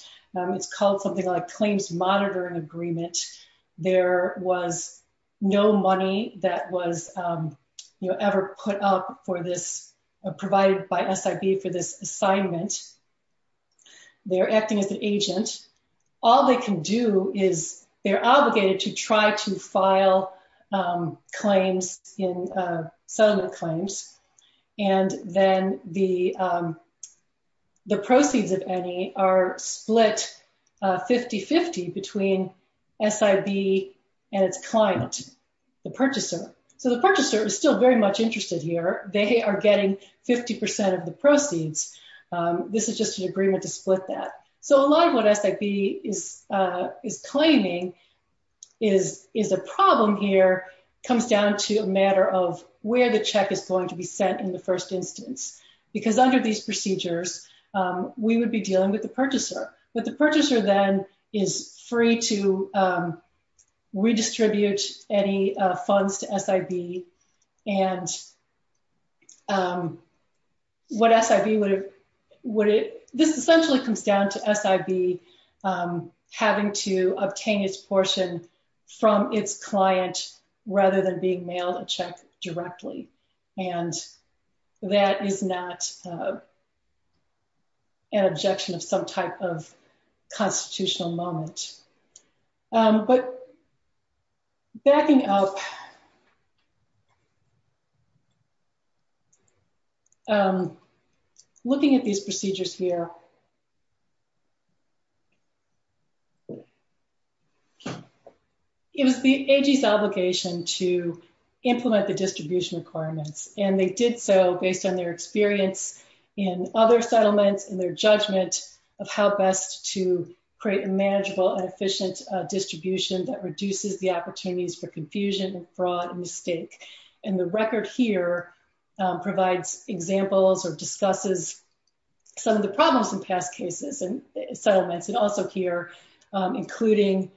is called something like claims monitoring agreement. They're acting as an agent. There was no money that was ever put up for this, provided by SIB for this assignment. They're acting as an agent. All they can do is they're obligated to try to file claims in settlement claims. And then the, the SIB and its client, the purchaser. So the purchaser is still very much interested here. They are getting 50% of the proceeds. This is just an agreement to split that. So a lot of what SIB is, is claiming is, is a problem here comes down to a matter of where the check is going to be sent in the first instance, because under these procedures, we would be dealing with the purchaser, but the purchaser then is free to redistribute any funds to SIB. And what SIB would, would it essentially comes down to SIB having to obtain its portion from its client, rather than being mailed a check directly. And that is not an objection of some type of constitutional moment. But backing up, looking at these procedures here, it was the agency's obligation to implement the distribution requirements. And they did so based on their experience in other settlements and their judgment of how best to create a manageable and efficient distribution that reduces the opportunities for confusion and fraud and mistake. And the record here provides examples or discusses some of the problems that have occurred in past cases and settlements. And also here including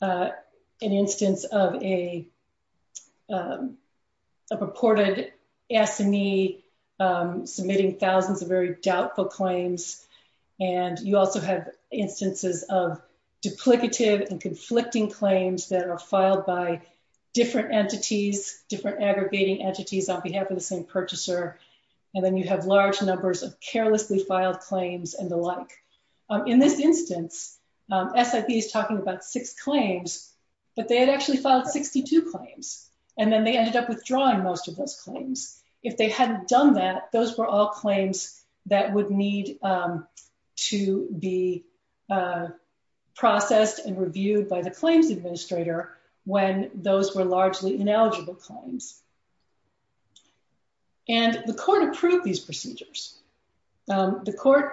an instance of a purported SME submitting thousands of very doubtful claims. And you also have instances of duplicative and conflicting claims that are filed by different entities, different aggravating entities on behalf of the same purchaser. And then you have large numbers of carelessly filed claims and the like. In this instance, SIB is talking about six claims, but they had actually filed 62 claims. And then they ended up withdrawing most of those claims. If they hadn't done that, those were all claims that would need to be processed and reviewed by the claims administrator when those were largely ineligible claims. And the court approved these procedures. The court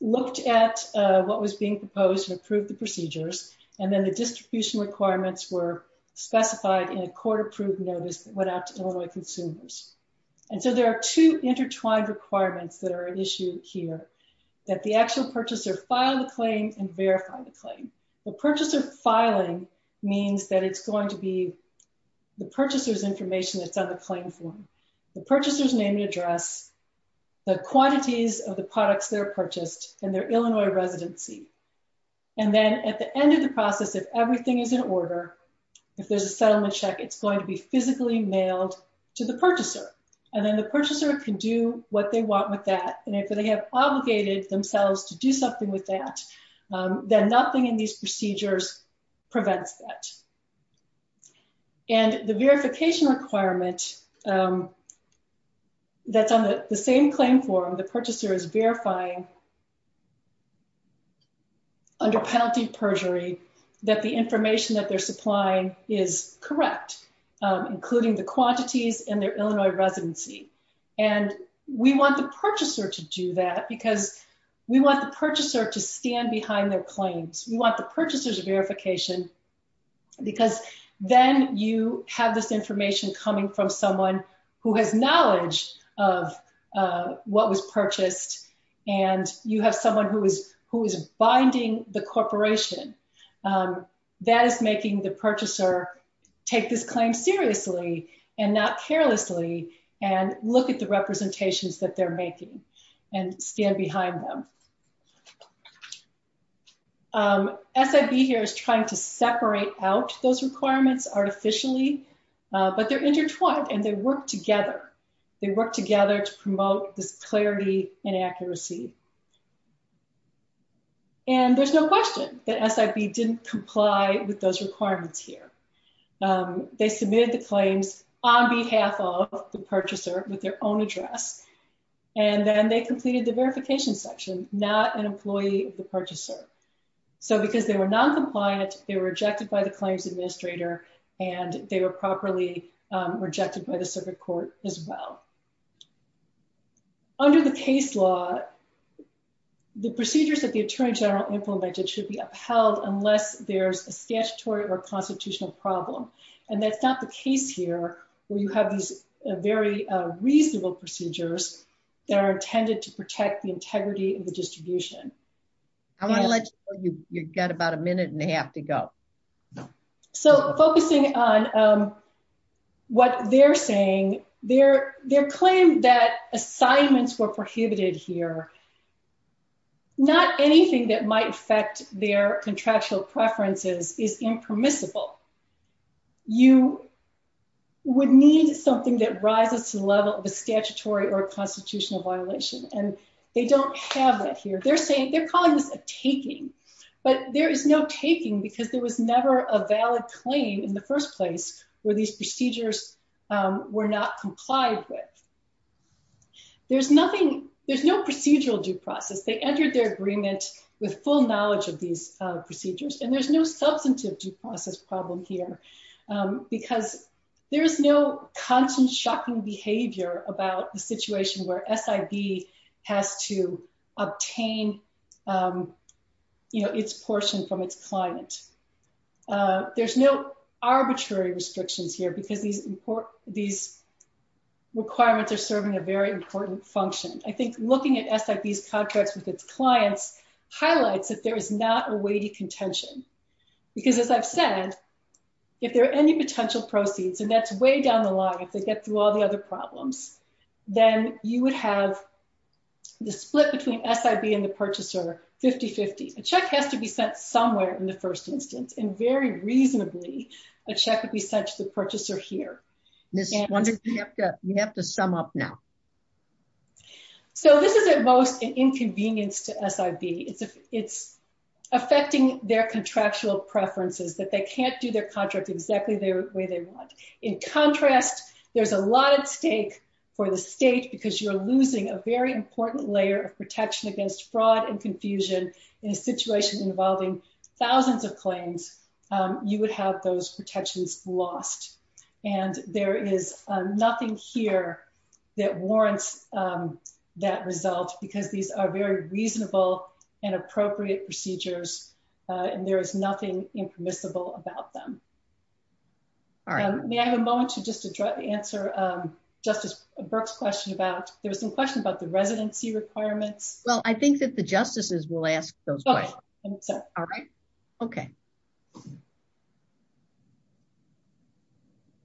looked at what was being proposed and approved the procedures. And then the distribution requirements were specified in a court-approved notice that went out to Illinois consumers. And so there are two intertwined requirements that are at issue here, that the actual purchaser filed the claim and verified the claim. The purchaser filing means that it's going to be the purchaser's information that's on the claim form. The purchaser's name and address, the quantities of the products that are purchased, and their Illinois residency. And then at the end of the process, if everything is in order, if there's a settlement check, it's going to be physically mailed to the purchaser. And then the purchaser can do what they want with that. And if they have obligated themselves to do something with that, then nothing in these procedures prevents that. And the verification requirement that's on the same claim form, the purchaser is verifying, under penalty of perjury, that the information that they're supplying is correct, including the quantities and their Illinois residency. And we want the purchaser to do that because we want the purchaser to stand behind their claims. We want the purchaser's verification because then you have this information coming from someone who has knowledge of what was purchased, and you have someone who is binding the corporation. That is making the purchaser take this claim seriously and not carelessly, and look at the representations that they're making and stand behind them. SID here is trying to separate out those requirements artificially, but they're intertwined and they work together. They work together to promote this clarity and accuracy. And there's no question that SID didn't comply with those requirements here. They submitted the claims on behalf of the purchaser with their own address, and then they completed the verification section, not an employee of the purchaser. So because they were non-compliant, they were rejected by the claims administrator, and they were properly rejected by the circuit court as well. Under the case law, the procedures that the attorney general implemented should be upheld unless there's a statutory or constitutional problem. And that's not the case here, where you have these very reasonable procedures that are intended to protect the integrity of the distribution. I want to let you know you've got about a minute and a half to go. So focusing on what they're saying, they're claiming that assignments were prohibited here. Not anything that might affect their contractual preferences is impermissible. You would need something that rises to the level of a statutory or constitutional violation, and they don't have that here. They're calling this a taking, but there is no taking because there was never a valid claim in the first place where these procedures were not complied with. There's no procedural due process. They entered their agreement with full knowledge of these procedures, and there's no substantive due process problem here because there's no constant shocking behavior about the situation where SID has to obtain its portion from its client. There's no arbitrary restrictions here because these requirements are serving a very important function. I think looking at SID's contracts with its clients highlights that there is not a weighty contention because, as I've said, if there are any potential proceeds, and that's way down the line, if they get through all the other problems, then you would have the split between SID and the purchaser 50-50. A check has to be sent somewhere in the first instance, and very reasonably a check would be sent to the purchaser here. We have to sum up now. So this is at most an inconvenience to SID. It's affecting their contractual preferences that they can't do their contract exactly the way they want. In contrast, there's a lot at stake for the state because you're losing a very important layer of protection against fraud and confusion in a situation involving thousands of claims. You would have those protections lost. And there is nothing here that warrants that result because these are very reasonable and appropriate procedures, and there is nothing impermissible about them. All right. May I have a moment to just answer Justice Burke's question about, there was a question about the residency requirement. Well, I think that the justices will ask those questions. All right. Okay.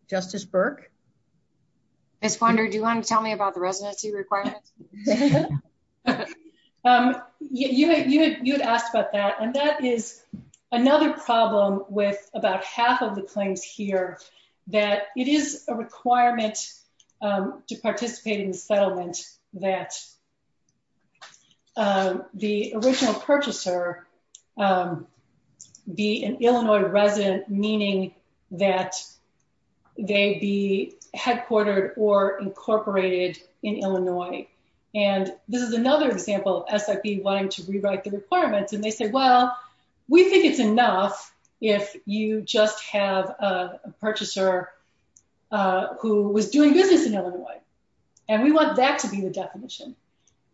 Justice Burke? Ms. Wander, do you want to tell me about the residency requirement? You had asked about that, and that is another problem with about half of the claims here, that it is a requirement to participate in the settlement that the original purchaser be an Illinois resident, meaning that they be headquartered or incorporated in Illinois. And this is another example of SRP wanting to rewrite the requirements. And they said, well, we think it's enough if you just have a purchaser who was doing business in Illinois. And we want that to be the definition,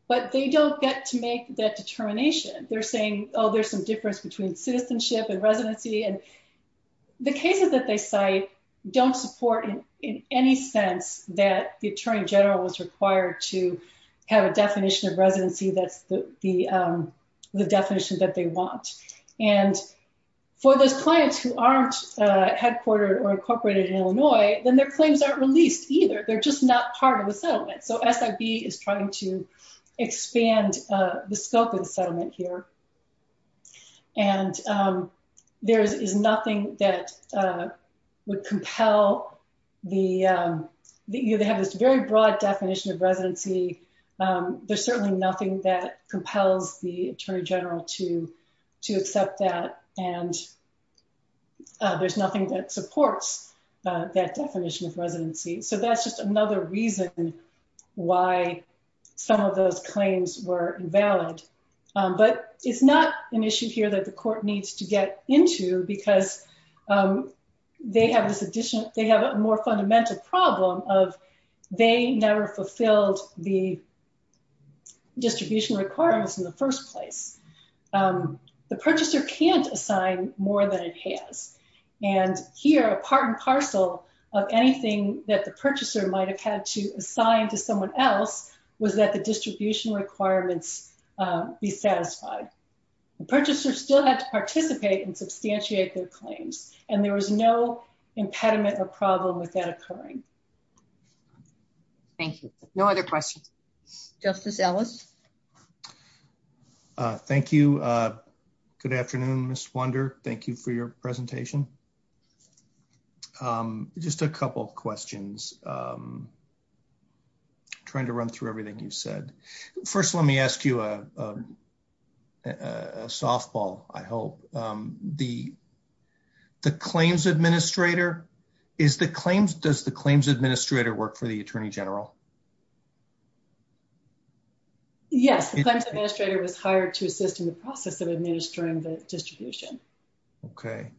but they don't get to make that determination. They're saying, oh, there's some difference between citizenship and residency. And the cases that they cite don't support in any sense that the attorney general is required to have a definition of residency that the definition that they want. And for the clients who aren't headquartered or incorporated in Illinois, then their claims aren't released either. They're just not part of the settlement. So SID is trying to expand the scope of the settlement here. And there is nothing that would compel the, they have this very broad definition of residency. There's certainly nothing that compels the attorney general to accept that. And there's nothing that supports that definition of residency. So that's just another reason why some of those claims were invalid. But it's not an issue here that the court needs to get into because they have a more fundamental problem of they never fulfilled the distribution requirements in the first place. The purchaser can't assign more than it can. And here, a part and parcel of anything that the purchaser might have had to assign to someone else was that the distribution requirements be satisfied. The purchaser still has to participate and substantiate their claims. And there was no impediment or problem with that occurring. Thank you. No other questions. Justice Ellis. Thank you. Good afternoon, Ms. Wunder. Thank you for your presentation. Just a couple questions. Trying to run through everything you said. First, let me ask you a softball, I hope. The claims administrator, is the claims, does the claims administrator work for the attorney general? Yes. The claims administrator was hired to assist in the process of administering the distribution. Okay.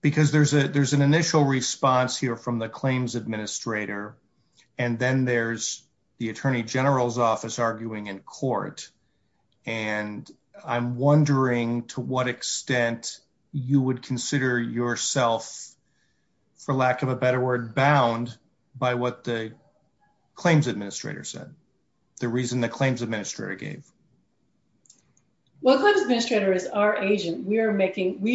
Because there's an initial response here from the claims administrator. And then there's the attorney general's office arguing in court. And I'm wondering to what extent you would consider yourself, for lack of a better word, bound by what the claims administrator said. The reason the claims administrator gave. Well, the claims administrator is our agent. We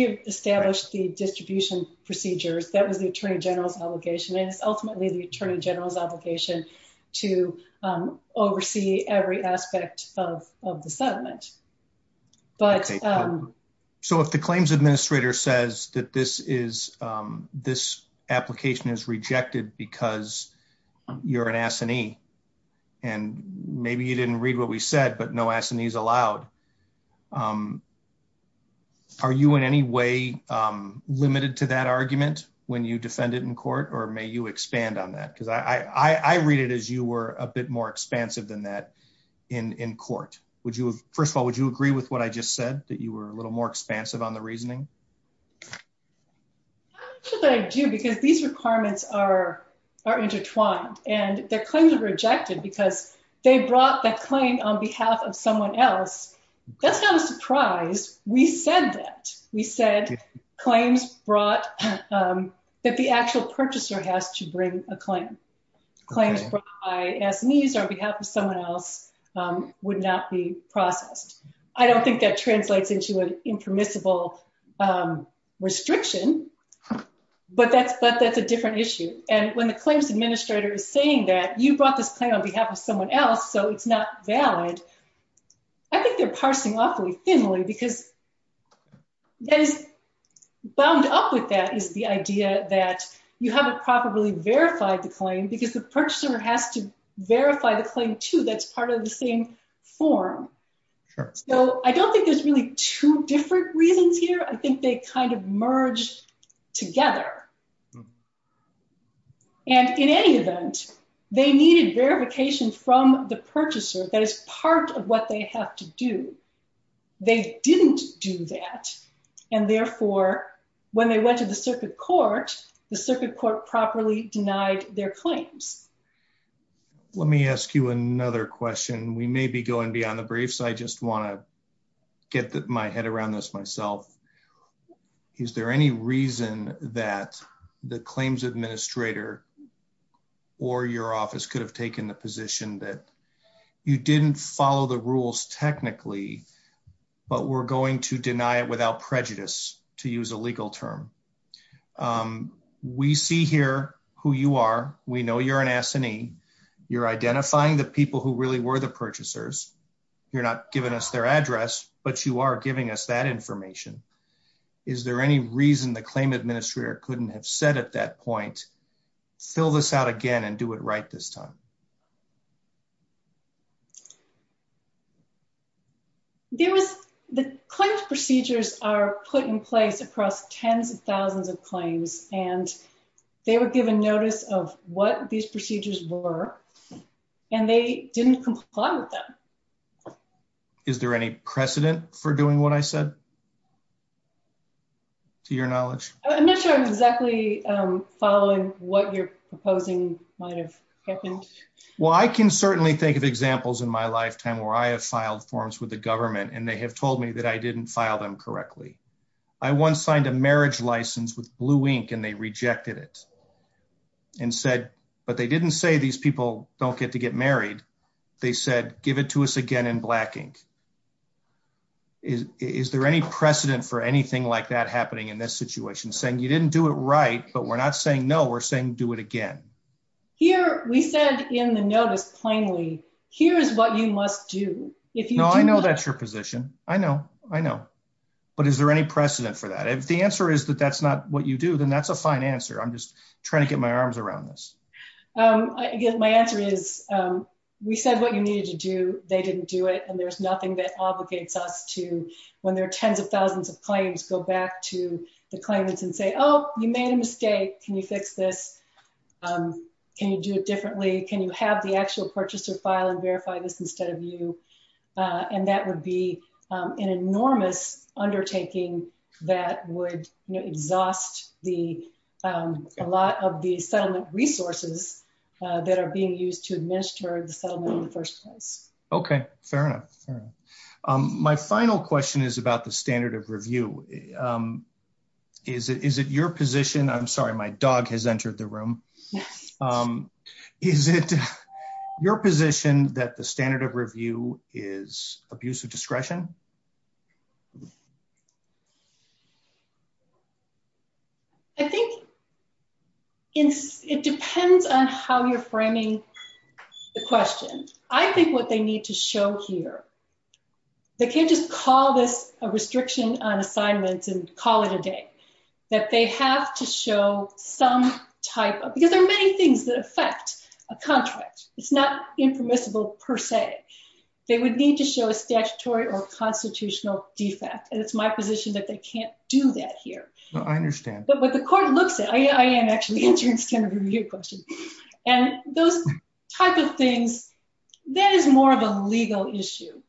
have established the distribution procedures. That was the attorney general's obligation. And it's ultimately the attorney general's obligation to oversee every aspect of the settlement. So if the claims administrator says that this is, this application is rejected because you're an assignee. And maybe you didn't read what we said, but no assignees allowed. Are you in any way limited to that argument when you defend it in court, or may you expand on that? I read it as you were a bit more expansive than that in court. First of all, would you agree with what I just said? That you were a little more expansive on the reasoning? I do. Because these requirements are intertwined. And their claims are rejected because they brought that claim on behalf of someone else. That's not a surprise. We said that. We said claims brought that the actual purchaser has to bring a claim. Claims brought by an assignee on behalf of someone else would not be processed. I don't think that translates into an impermissible restriction, but that's a different issue. And when the claims administrator is saying that you brought this claim on behalf of someone else, so it's not valid. I think they're parsing awfully thinly because then bound up with that is the idea that you haven't properly verified the claim because the purchaser has to verify the claim too. That's part of the same form. So I don't think there's really two different reasons here. I think they kind of merge together. And in any event, they needed verifications from the purchaser that is part of what they have to do. They didn't do that. And therefore when they went to the circuit court, the circuit court properly denied their claims. Let me ask you another question. We may be going beyond the briefs. I just want to get my head around this myself. Is there any reason that the claims administrator or your office could have taken the position that you didn't follow the rules technically, but we're going to deny it without prejudice to use a legal term? We see here who you are. We know you're an S&E. You're identifying the people who really were the purchasers. You're not giving us their address, but you are giving us that information. Is there any reason the claim administrator couldn't have said at that point, fill this out again and do it right this time? The claims procedures are put in place across tens of thousands of claims. And they were given notice of what these procedures were, and they didn't comply with them. Is there any precedent for doing what I said to your knowledge? I'm not sure exactly following what you're proposing might have happened. Well, I can certainly think of examples in my lifetime where I have filed forms with the government and they have told me that I didn't file them correctly. I once signed a marriage license with blue ink and they rejected it and said, but they didn't say these people don't get to get married. They said, give it to us again in black ink. Is there any precedent for anything like that happening in this situation, saying you didn't do it right, but we're not saying no, we're saying do it again? Here, we said in the notice plainly, here's what you must do. No, I know that's your position. I know, I know. But is there any precedent for that? If the answer is that that's not what you do, then that's a fine answer. I'm just trying to get my arms around this. Again, my answer is we said what you needed to do. They didn't do it. And there's nothing that obligates us to, when there are tens of thousands of claims, go back to the claimants and say, oh, you made a mistake. Can you fix this? Can you do it differently? Can you have the actual purchaser file and verify this instead of you? And that would be an enormous undertaking that would exhaust a lot of the settlement resources that are being used to administer the settlement in the first place. Okay. Fair enough. My final question is about the standard of review. Is it your position? I'm sorry, my dog has entered the room. Is it your position that the standard of review is abuse of discretion? I think it depends on how you're framing the question. I think what they need to show here, they can't just call this a restriction on assignments and call it a day. That they have to show some type of, because there are many things that affect a contract. It's not impermissible per se. They would need to show a statutory or constitutional defect. And it's my position that they can't do that here. I understand. But what the court looks at, I am actually interested in the review question. And those types of things, that is more of a legal issue.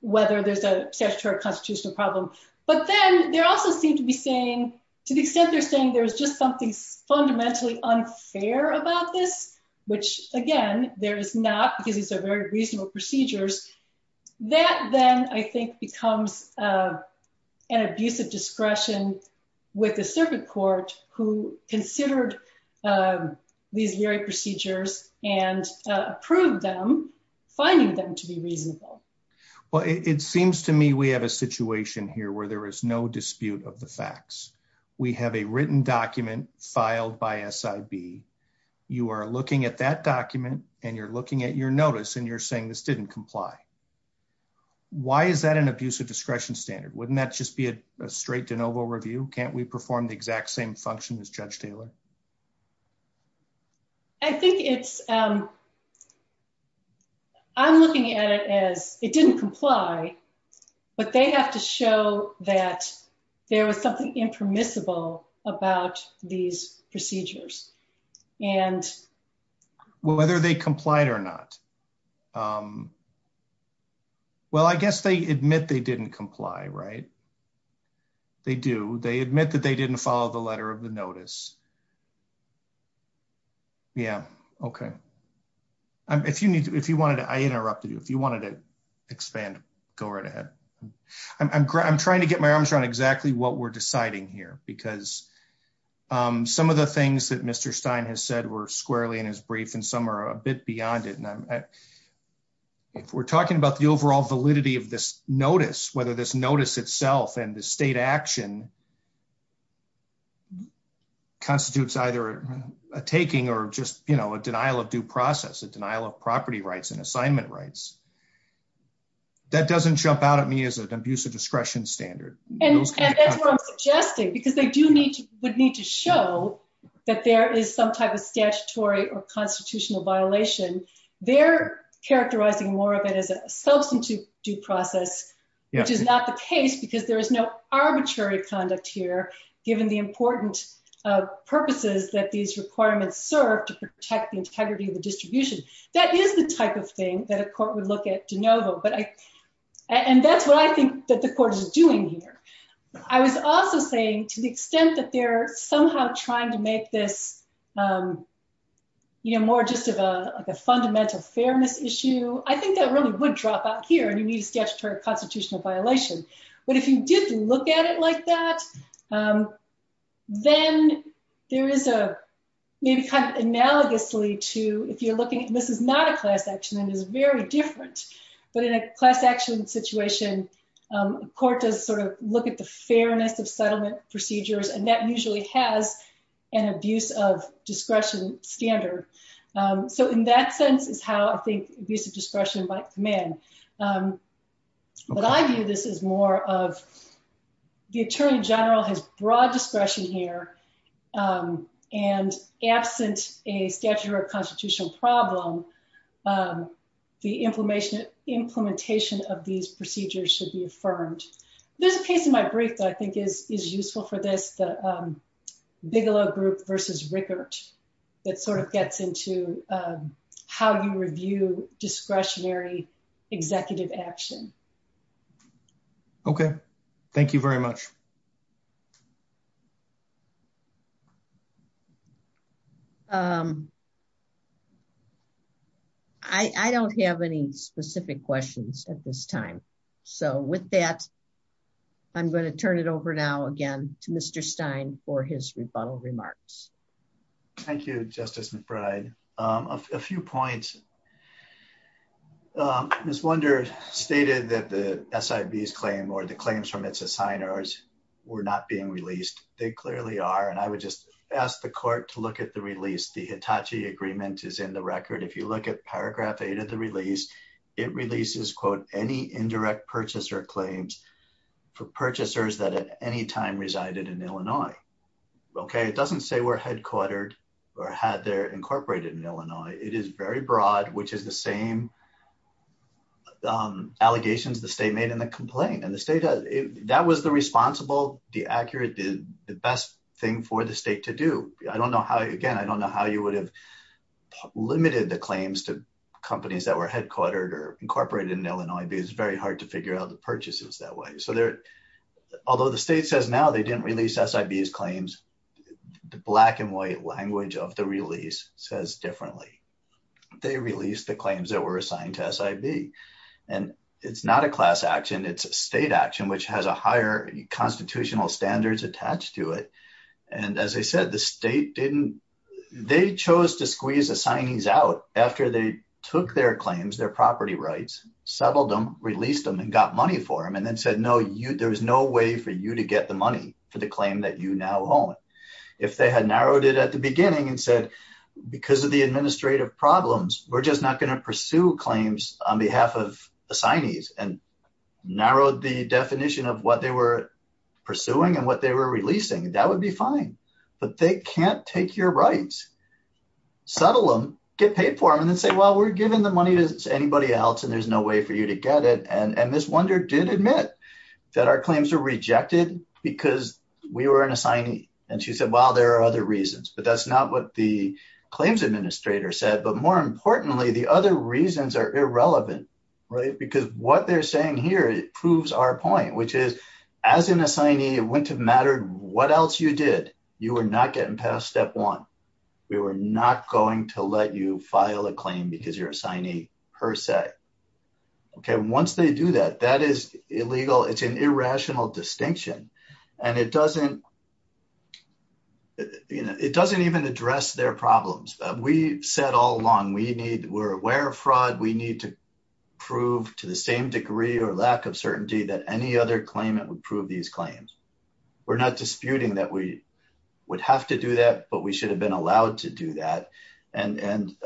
Whether there's a statutory or constitutional problem. But then they also seem to be saying, to the extent they're saying there's just something fundamentally unfair about this, which again, there is not, because these are very reasonable procedures. That then I think becomes an abuse of discretion with the circuit court who considered these very procedures and approved them, finding them to be reasonable. Well, it seems to me, we have a situation here where there is no dispute of the facts. We have a written document filed by SIB. You are looking at that document and you're looking at your notice and you're saying this didn't comply. Why is that an abuse of discretion standard? Wouldn't that just be a straight de novo review? Can't we perform the exact same function as judge Taylor? I think it's, I'm looking at it as it didn't comply, but they have to show that there was something impermissible about these procedures and. Well, whether they complied or not. Well, I guess they admit they didn't comply, right? They do. They admit that they didn't follow the letter of the notice. Yeah. Okay. If you need to, if you wanted to, I interrupted you. If you wanted to expand, go right ahead. I'm trying to get my arms around exactly what we're deciding here because some of the things that Mr. Stein has said were squarely in his brief and some are a bit beyond it. We're talking about the overall validity of this notice, whether this notice itself and the state action. Constitutes either a taking or just, you know, a denial of due process, a denial of property rights and assignment rights. That doesn't jump out at me as an abuse of discretion standard. Because they do need to, would need to show that there is some type of statutory or constitutional violation. They're characterizing more of it as a substitute due process, which is not the case because there is no arbitrary conduct here, given the important purposes that these requirements serve to protect the integrity of the distribution. That is the type of thing that a court would look at to know though. But I, and that's what I think that the court is doing here. I was also saying to the extent that they're somehow trying to make this, you know, more just of a, like a fundamental fairness issue. I think that really would drop out here. You need to get to her constitutional violation, but if you just look at it like that, then there is a maybe kind of analogously to if you're looking at, this is not a class action and it was very different, but in a class action situation, court does sort of look at the fairness of settlement procedures. And that usually has an abuse of discretion standard. So in that sense is how I think abuse of discretion by men. What I view this as more of the attorney general has broad discretion here and absence a statute or a constitutional problem. The information implementation of these procedures should be affirmed. This case in my brief that I think is, is useful for this, Bigelow group versus records. It sort of gets into how you review discretionary executive action. Okay. Thank you very much. I don't have any specific questions at this time. So with that, I'm going to turn it over now again to Mr. Stein for his rebuttal remarks. Thank you, justice and pride. A few points. This wonder stated that the SIVs claim or the claims from its assigners were not being released. They clearly are. And I would just ask the court to look at the release. The Hitachi agreement is in the record. If you look at paragraph eight of the release, it releases quote, any indirect purchaser claims for purchasers that at any time resided in Illinois. Okay. It doesn't say we're headquartered or had their incorporated in Illinois. It is very broad, which is the same allegations the state made in the complaint and the state that was the responsible, the accurate, the best thing for the state to do. I don't know how, again, I don't know how you would have limited the claims to companies that were assigned to SIVs. It's very hard to figure out the purchases that way. So there, although the state says now they didn't release SIVs claims, the black and white language of the release says differently. They released the claims that were assigned to SIV and it's not a class action. It's a state action, which has a higher constitutional standards attached to it. And as I said, the state didn't, they chose to squeeze the signings out after they took their claims, their property rights, settled them, released them and got money for them. And then said, no, you, there's no way for you to get the money for the claim that you now own. If they had narrowed it at the beginning and said, because of the administrative problems, we're just not going to pursue claims on behalf of assignees and narrowed the definition of what they were pursuing and what they were releasing. That would be fine, but they can't take your rights, settle them, get paid for them and say, well, we're giving the money to anybody else and there's no way for you to get it. And Ms. Wunder did admit that our claims are rejected because we were an assignee. And she said, well, there are other reasons, but that's not what the claims administrator said. But more importantly, the other reasons are irrelevant, right? Because what they're saying here, it proves our point, which is as an assignee, it wouldn't have mattered what else you did. You were not getting past step one. We were not going to let you file a claim because you're assignee per se. Okay. Once they do that, that is illegal. It's an irrational distinction. And it doesn't, you know, it doesn't even address their problems. We said all along, we need, we're aware of fraud. We need to prove to the same degree or lack of certainty that any other claim that would prove these claims. We're not disputing that we would have to do that, but we should have been allowed to do that. And, and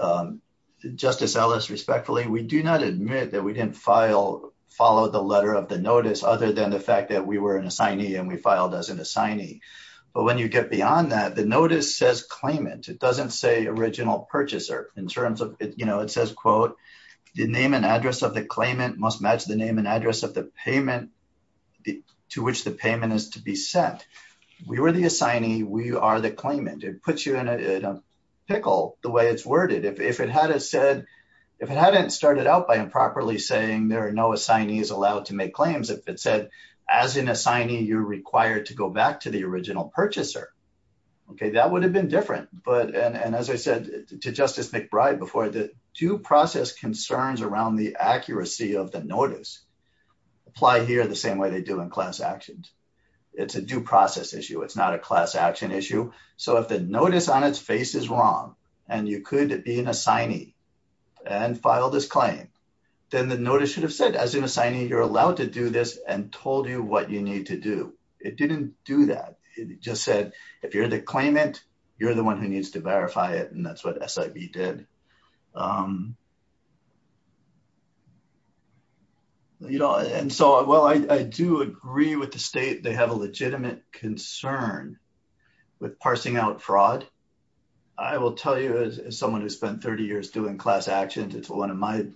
justice Ellis, respectfully, we do not admit that we didn't file, follow the letter of the notice other than the fact that we were an assignee and we filed as an assignee. But when you get beyond that, the notice says claimant, it doesn't say original purchaser in terms of, you know, it says, quote, the name and address of the claimant must match the name and address of the payment is to be sent. We were the assignee. We are the claimant. It puts you in a pickle the way it's worded. If it had said, if it hadn't started out by improperly saying there are no assignees allowed to make claims, if it said as an assignee, you're required to go back to the original purchaser. Okay. That would have been different. But, and as I said to justice McBride before, the two process concerns around the accuracy of the notice apply here the same way they do in class actions. It's a due process issue. It's not a class action issue. So if the notice on its face is wrong and you could be an assignee and file this claim, then the notice should have said, as an assignee, you're allowed to do this and told you what you need to do. It didn't do that. It just said, if you're the claimant, you're the one who needs to verify it. And that's what SIV did. You know, and so, well, I do agree with the state. They have a legitimate concern with parsing out fraud. I will tell you as someone who spent 30 years doing class actions, it's one of my,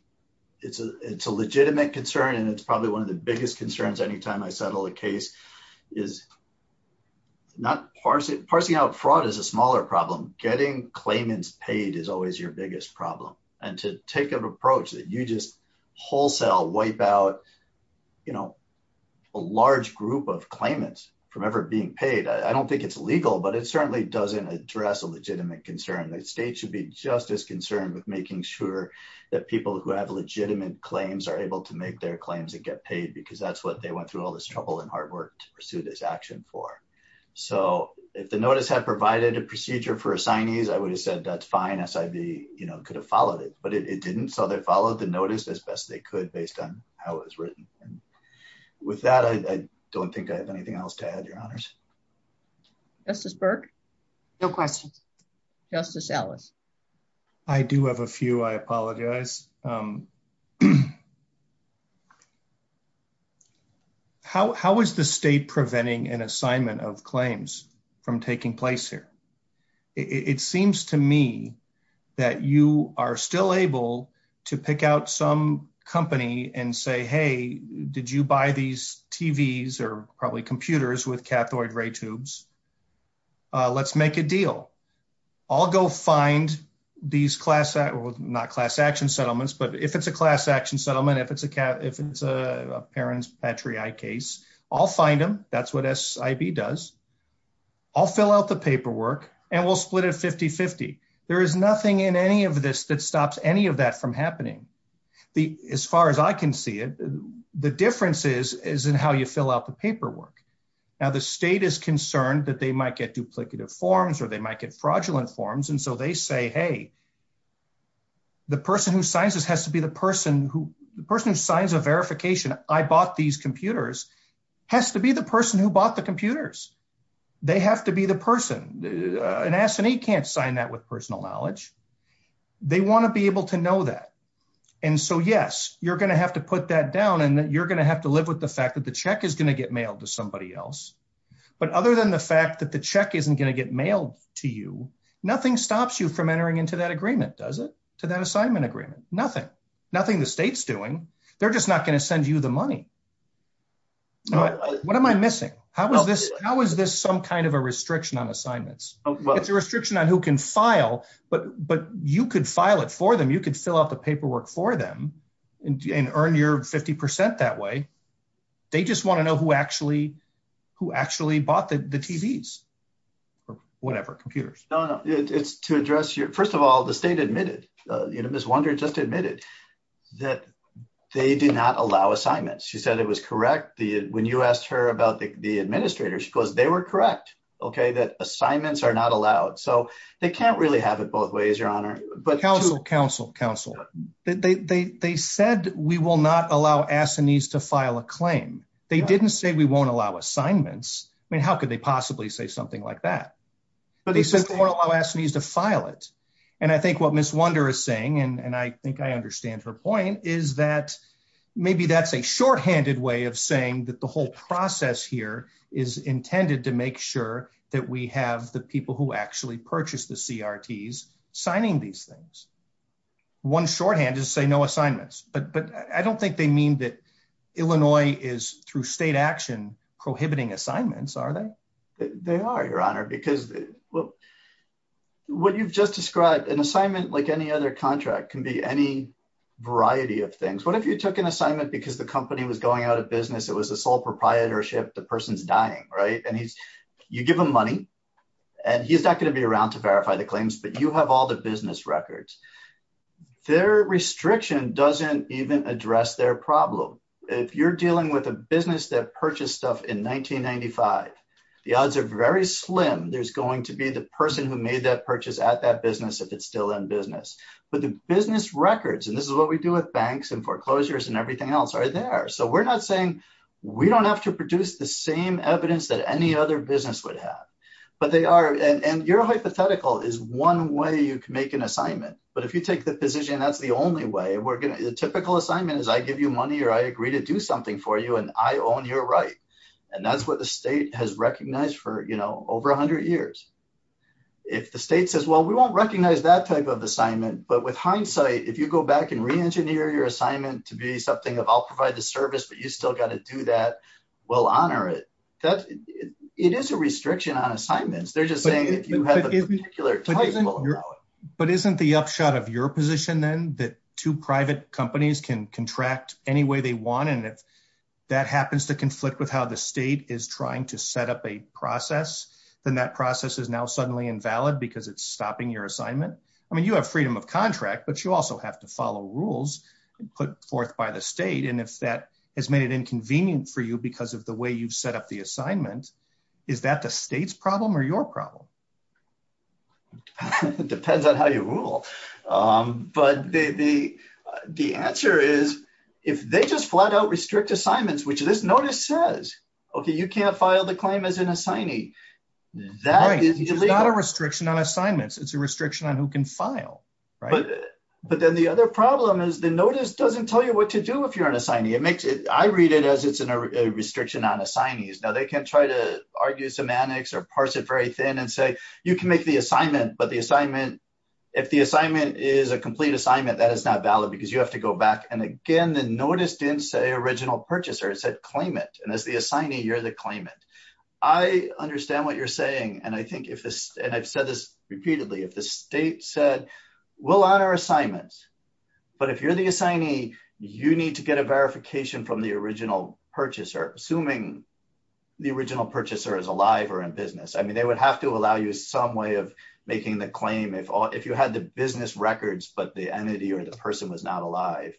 it's a, it's a legitimate concern. And it's probably one of the biggest concerns. Anytime I settle a case is not parse it. Parsing out fraud is a smaller problem. Getting claimants paid is always your biggest problem. And to take an approach that you just wholesale wipe out, you know, a large group of claimants from ever being paid. I don't think it's legal, but it certainly doesn't address a legitimate concern. The state should be just as concerned with making sure that people who have legitimate claims are able to make their claims and get paid because that's what they went through all this trouble and hard work to pursue this action for. So if the notice had provided a procedure for assignees, I would have said that's fine as I'd be, you know, could have followed it, but it didn't. So they followed the notice as best they could based on how it was written. And with that, I don't think I have anything else to add your honors. Justice Burke. No question. Justice Ellis. I do have a few, I apologize. How, how is the state preventing an assignment of claims from taking place here? I mean, it seems to me that you are still able to pick out some company and say, Hey, did you buy these TVs or probably computers with cathode ray tubes. Let's make a deal. I'll go find these class at not class action settlements, but if it's a class action settlement, if it's a cat, if it's a parent's Patriot case, I'll find them. That's what S I B does. I'll fill out the paperwork and we'll split it 50 50. There is nothing in any of this that stops any of that from happening. As far as I can see it. The difference is, is in how you fill out the paperwork. Now the state is concerned that they might get duplicative forms or they might get fraudulent forms. And so they say, Hey, The person who signs this has to be the person who the person who signs a verification. I bought these computers has to be the person who bought the computers. They have to be the person that asked me, can't sign that with personal knowledge. They want to be able to know that. And so, yes, you're going to have to put that down. And then you're going to have to live with the fact that the check is going to get mailed to somebody else. But other than the fact that the check isn't going to get mailed to you, nothing stops you from entering into that agreement. Does it. So that assignment agreement, nothing, nothing, the state's doing. They're just not going to send you the money. What am I missing? How was this? How is this some kind of a restriction on assignments? It's a restriction on who can file, but, but you could file it for them. You could fill out the paperwork for them and earn your 50% that way. They just want to know who actually, who actually bought the TVs. Whatever computers. It's to address your, first of all, the state admitted, you know, Ms. Wunder just admitted that they do not allow assignments. She said it was correct. When you asked her about the administrator, she goes, they were correct. Okay. That assignments are not allowed. So they can't really have it both ways, your honor. Counsel, counsel, they, they, they said that we will not allow assignees to file a claim. They didn't say we won't allow assignments. I mean, how could they possibly say something like that? But they said they won't allow assignees to file it. And I think what Ms. Wunder is saying, and I think I understand her point is that maybe that's a shorthanded way of saying that the whole process here is intended to make sure that we have the people who actually purchased the CRTs signing these things. One shorthand is say no assignments, but, but I don't think they mean that Illinois is through state action, prohibiting assignments. Are they? They are, your honor, because, well, what you've just described an assignment like any other contract can be any variety of things. What if you took an assignment because the company was going out of business? It was a sole proprietorship. The person's dying, right? And he's, you give them money and he's not going to be around to verify the claims, but you have all the business records. Their restriction doesn't even address their problem. If you're dealing with a business that purchased stuff in 1995, the odds are very slim. There's going to be the person who made that purchase at that business, if it's still in business, but the business records, and this is what we do at banks and foreclosures and everything else are there. So we're not saying we don't have to produce the same evidence that any other business would have, but they are. And your hypothetical is one way you can make an assignment. But if you take the position, that's the only way we're going to, the typical assignment is I give you money or I agree to do something for you and I own your right. And that's what the state has recognized for, you know, over a hundred years. If the state says, well, we won't recognize that type of assignment, but with hindsight, if you go back and re-engineer your assignment to be something of, I'll provide the service, but you still got to do that, we'll honor it. It is a restriction on assignments. They're just saying if you have a particular type of... But isn't the upshot of your position then that two private companies can contract any way they want. And if that happens to conflict with how the state is trying to set up a process, then that process is now suddenly invalid because it's stopping your assignment. I mean, you have freedom of contract, but you also have to follow rules put forth by the state. And if that has made it inconvenient for you because of the way you've set up the assignments, is that the state's problem or your problem? It depends on how you rule. But the answer is if they just flat out restrict assignments, which this notice says, okay, you can't file the claim as an assignee. It's not a restriction on assignments. It's a restriction on who can file. But then the other problem is the notice doesn't tell you what to do if you're an assignee. I read it as it's a restriction on assignees. Now they can try to argue semantics or parse it very thin and say, you can make the assignment, but the assignment, if the assignment is a complete assignment, that is not valid because you have to go back. And again, the notice didn't say original purchaser, it said claimant. And as the assignee, you're the claimant. I understand what you're saying. And I think if this, and I've said this repeatedly, if the state said we'll honor assignments, but if you're the assignee, you need to get a verification from the original purchaser, assuming the original purchaser is alive or in business. I mean, they would have to allow you some way of making the claim if all, if you had the business records, but the entity or the person was not alive.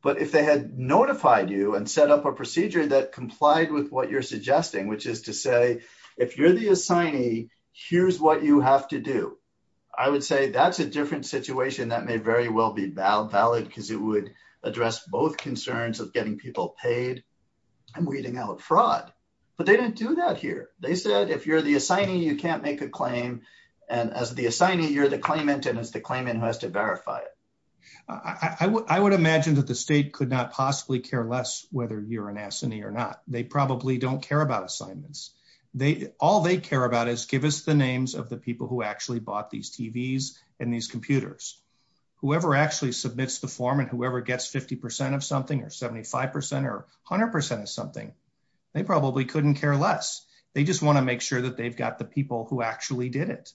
But if they had notified you and set up a procedure that complied with what you're suggesting, which is to say, if you're the assignee, here's what you have to do. I would say, that's a different situation that may very well be valid because it would address both concerns of getting people paid and weeding out fraud. But they didn't do that here. They said, if you're the assignee, you can't make a claim. And as the assignee, you're the claimant. And as the claimant has to verify it. I would imagine that the state could not possibly care less whether you're an assignee or not. They probably don't care about assignments. All they care about is give us the names of the people who actually bought these TVs and these computers, whoever actually submits the form and whoever gets 50% of something or 75% or 100% of something. They probably couldn't care less. They just want to make sure that they've got the people who actually did it.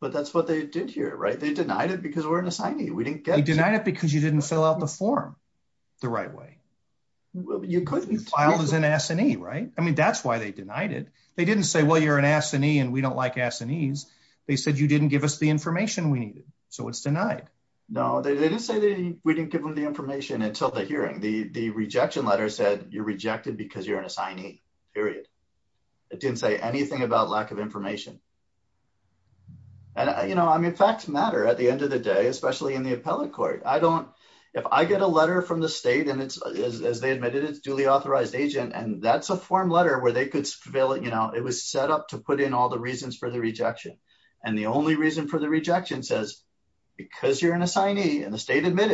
But that's what they did here, right? They denied it because we're an assignee. We didn't get it. They denied it because you didn't fill out the form the right way. You couldn't. You filed as an assignee, right? I mean, that's why they denied it. They didn't say, well, you're an assignee and we don't like assignees. They said, you didn't give us the information we needed. So it's denied. No, they didn't say we didn't give them the information until the hearing. The rejection letter said you're rejected because you're an assignee, period. It didn't say anything about lack of information. And, you know, I mean, facts matter at the end of the day, especially in the appellate court. I don't, if I get a letter from the state and it's as they admitted it's a duly authorized agent and that's a form letter where they could fill it, you know, it was set up to put in all the reasons for the rejection. And the only reason for the rejection says because you're an assignee and the reason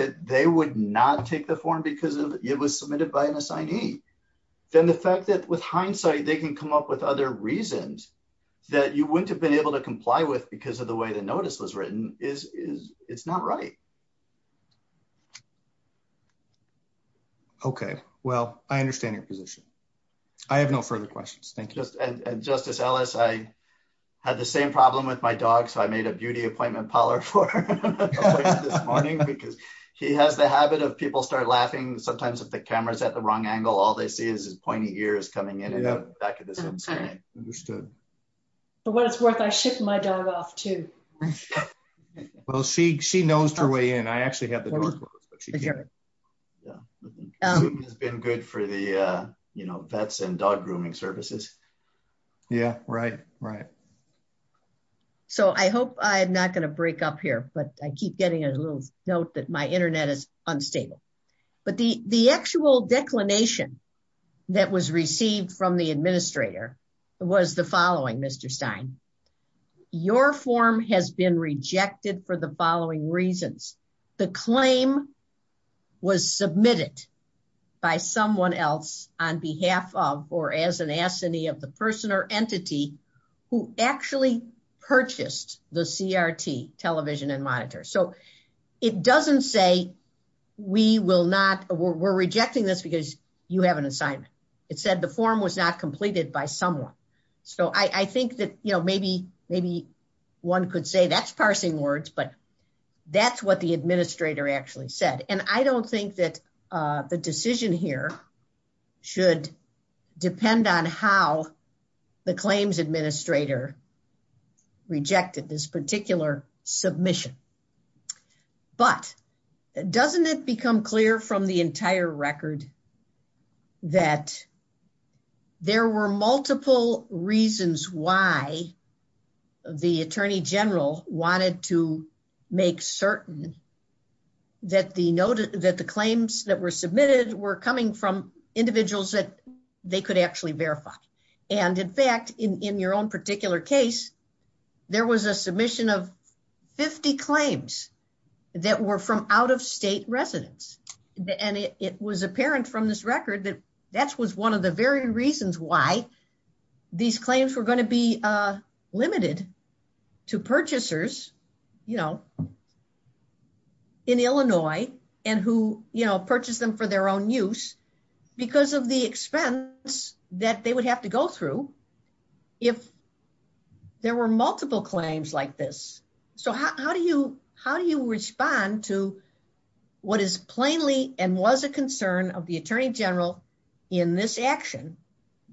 it was submitted by an assignee. Then the fact that with hindsight they can come up with other reasons that you wouldn't have been able to comply with because of the way the notice was written is, is it's not right. Okay. Well, I understand your position. I have no further questions. Thank you. And Justice Ellis, I had the same problem with my dog. So I made a beauty appointment poller for her this morning because she has the camera's at the wrong angle. All they see is his pointy ears coming in and out back at the same time. So what it's worth, I shit my dog off too. Well, she, she knows her way in. I actually have the door. It's been good for the, you know, vets and dog grooming services. Yeah. Right. Right. So I hope I'm not going to break up here, but I keep getting a little note that my internet is unstable, but the actual declination that was received from the administrator was the following. Mr. Stein, your form has been rejected for the following reasons. The claim was submitted by someone else on behalf of, or as an assignee of the person or entity who actually purchased the CRT television and monitor. So it doesn't say we will not, we're rejecting this because you have an assignment. It said the form was not completed by someone. So I think that, you know, maybe, maybe one could say that's parsing words, but that's what the administrator actually said. And I don't think that the decision here should depend on how the claims administrator rejected this particular submission. But doesn't it become clear from the entire record that there were multiple reasons why the attorney general wanted to make certain that the noted that the claims that were submitted were coming from individuals that they could actually verify. And in fact, in your own particular case, there was a submission of 50 claims that were from out of state residents. And it was apparent from this record that that was one of the very reasons why these claims were going to be limited to purchasers, you know, in Illinois and who, you know, purchase them for their own use because of the expense that they would have to go through if there were multiple claims like this. So how do you, how do you respond to what is plainly and was a concern of the attorney general in this action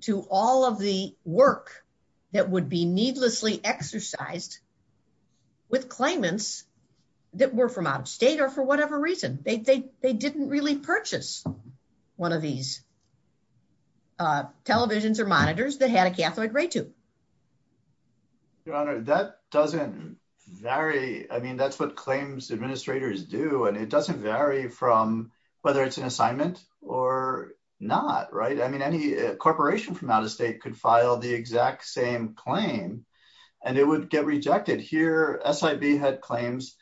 to all of the work that would be needlessly exercised with claimants that were from out of state or for whatever reason, they, they, they didn't really purchase one of these televisions or monitors. They had a Catholic rate to that doesn't vary. I mean, that's what claims administrators do and it doesn't vary from whether it's an assignment or not. Right. I mean, any corporation from out of state could file the exact same claim and it would get rejected here. SIV had claims.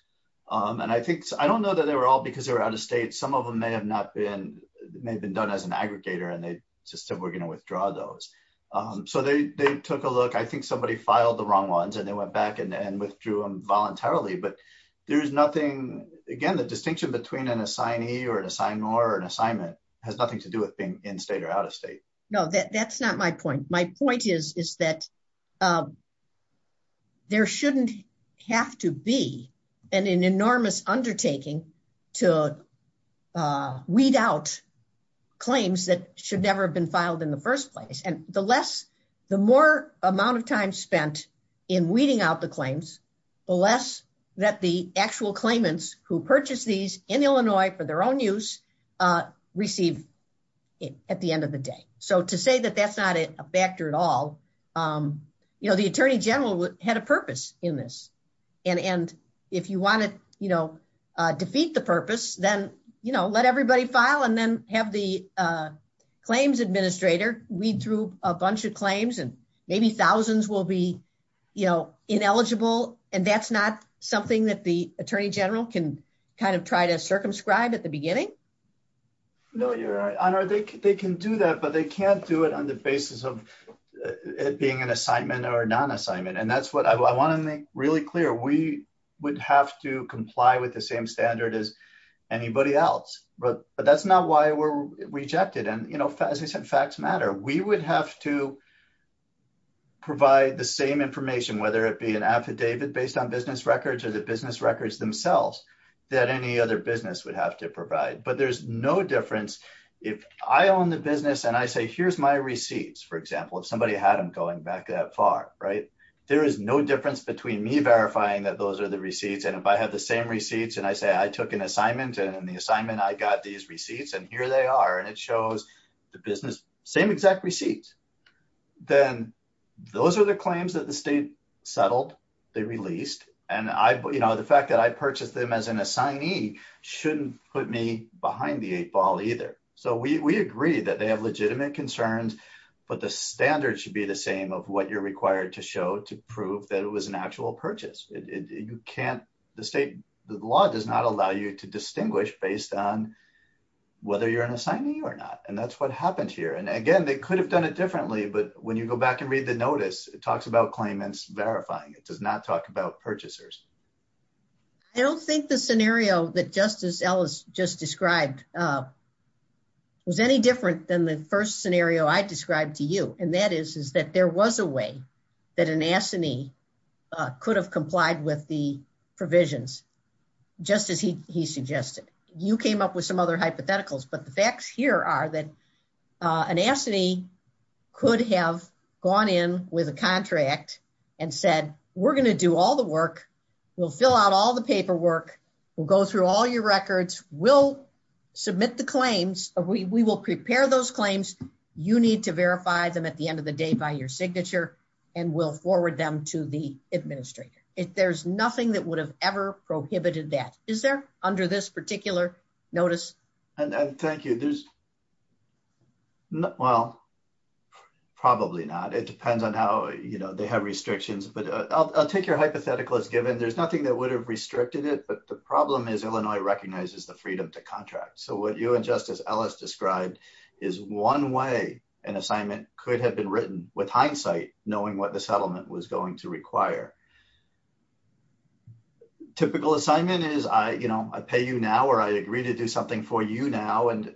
And I think, I don't know that they were all because they were out of state. Some of them may have not been, may have been done as an aggregator and they just said, we're going to withdraw those. So they, they took a look. I think somebody filed the wrong ones and they went back and then withdrew them voluntarily. But there's nothing again, the distinction between an assignee or an assignment has nothing to do with being in state or out of state. No, that's not my point. My point is, is that there shouldn't have to be an enormous undertaking to weed out claims that should never have been filed in the first place. And the less, the more amount of time spent in weeding out the claims, the less that the actual claimants who purchased these in Illinois for their own use received at the end of the day. So to say that that's not a factor at all you know, the attorney general had a purpose in this. And, and if you want to, you know defeat the purpose, then, you know, let everybody file and then have the claims administrator read through a bunch of claims and maybe thousands will be, you know, ineligible. And that's not something that the attorney general can kind of try to circumscribe at the beginning. No, you're right. They can do that, but they can't do it on the basis of it being an assignment or a non assignment. And that's what I want to make really clear. We would have to comply with the same standard as anybody else. But that's not why we're rejected. And, you know, facts matter. We would have to provide the same information, whether it be an affidavit based on business records or the business records themselves that any other business would have to provide. But there's no difference if I own the business and I say, here's my receipts. For example, if somebody had them going back that far, right. There is no difference between me verifying that those are the receipts. And if I have the same receipts and I say, I took an assignment. And in the assignment, I got these receipts and here they are. And it shows the business same exact receipts. Then those are the claims that the state settled. They released. And I, you know, the fact that I purchased them as an assignee shouldn't put me behind the eight ball either. So we agree that they have legitimate concerns, but the standard should be the same of what you're required to show to prove that it was an actual purchase. You can't, the state, the law does not allow you to distinguish based on whether you're an assignee or not. And that's what happened here. And again, they could have done it differently, but when you go back and read the notice, it talks about claimants verifying. It does not talk about purchasers. I don't think the scenario that Justice Ellis just described was any different than the first scenario I described to you. And that is that there was a way that an assignee could have complied with the provisions just as he suggested, you came up with some other hypotheticals, but the facts here are that an assignee could have gone in with a contract and said, we're going to do all the work. We'll fill out all the paperwork. We'll go through all your records. We'll submit the claims. We will prepare those claims. You need to verify them at the end of the day by your signature and we'll do that. There's nothing that would have ever prohibited that. Is there under this particular notice? And thank you. There's not, well, probably not. It depends on how they have restrictions, but I'll take your hypothetical as given. There's nothing that would have restricted it. But the problem is Illinois recognizes the freedom to contract. So what you and Justice Ellis described is one way an assignment could have been written with hindsight, knowing what the settlement was going to require. Typical assignment is I, you know, I pay you now or I agree to do something for you now. And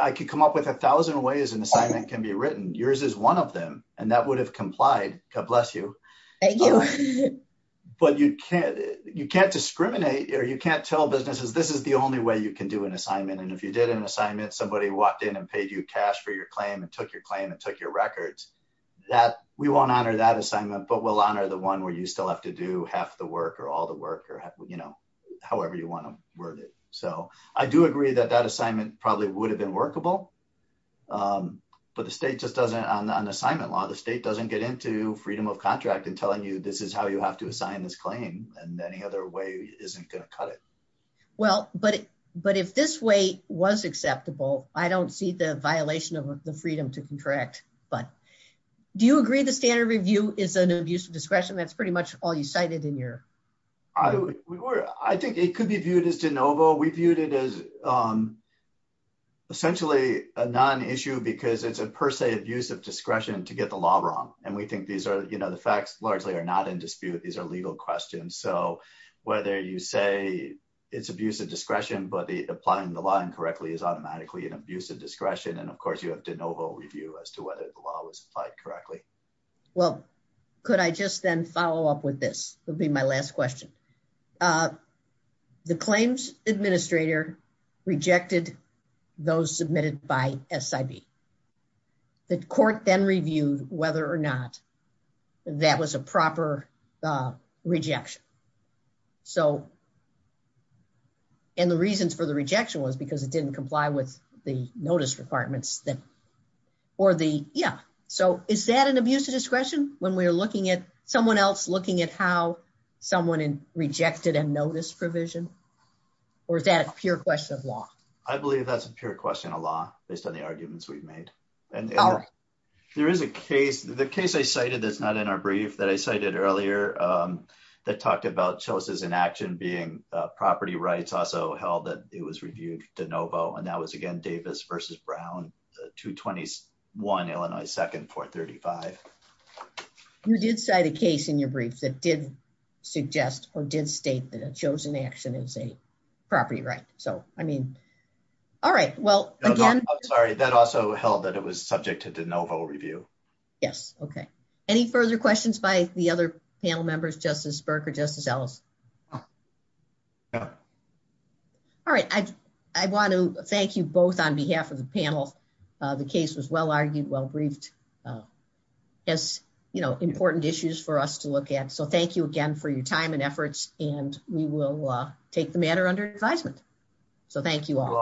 I could come up with a thousand ways an assignment can be written. Yours is one of them. And that would have complied. God bless you. But you can't, you can't discriminate or you can't tell businesses this is the only way you can do an assignment. And if you did an assignment, somebody walked in and paid you cash for your claim and took your claim and took your records that we won't honor that assignment, but we'll honor the one where you still have to do half the work or all the work or, you know, however you want to word it. So I do agree that that assignment probably would have been workable, but the state just doesn't on the assignment law, the state doesn't get into freedom of contract and telling you, this is how you have to assign this claim and any other way isn't going to cut it. Well, but, but if this way was acceptable, I don't see the violation of the freedom to correct. But do you agree? I think the standard review is an abuse of discretion. That's pretty much all you cited in here. I think it could be viewed as DeNovo. We viewed it as essentially a non-issue because it's a per se abuse of discretion to get the law wrong. And we think these are, you know, the facts largely are not in dispute. These are legal questions. So whether you say it's abuse of discretion, but the applying the law incorrectly is automatically an abuse of discretion. And of course you have DeNovo review as to whether the law was applied correctly. Well, could I just then follow up with this? It would be my last question. The claims administrator rejected those submitted by SID. The court then reviewed whether or not that was a proper rejection. And the reasons for the rejection was because it didn't comply with the statute. So is that an abuse of discretion when we're looking at someone else looking at how someone rejected a notice provision or is that a pure question of law? I believe that's a pure question of law based on the arguments we've made. And there is a case, the case I cited is not in our brief that I cited earlier that talked about choices in action being a property rights also held that it was reviewed DeNovo. And that was again, Davis versus Brown, the two 21 Illinois second four 35. You did cite a case in your brief that did suggest or did state that a chosen action is a property, right? So, I mean, all right. Well, again, sorry, that also held that it was subject to DeNovo review. Yes. Okay. Any further questions by the other panel members, justice Burke or justice Ellis? All right. I, I want to thank you both on behalf of the panel. The case was well argued well briefed as you know, important issues for us to look at. So thank you again for your time and efforts. And we will take the matter under advisement. So thank you all.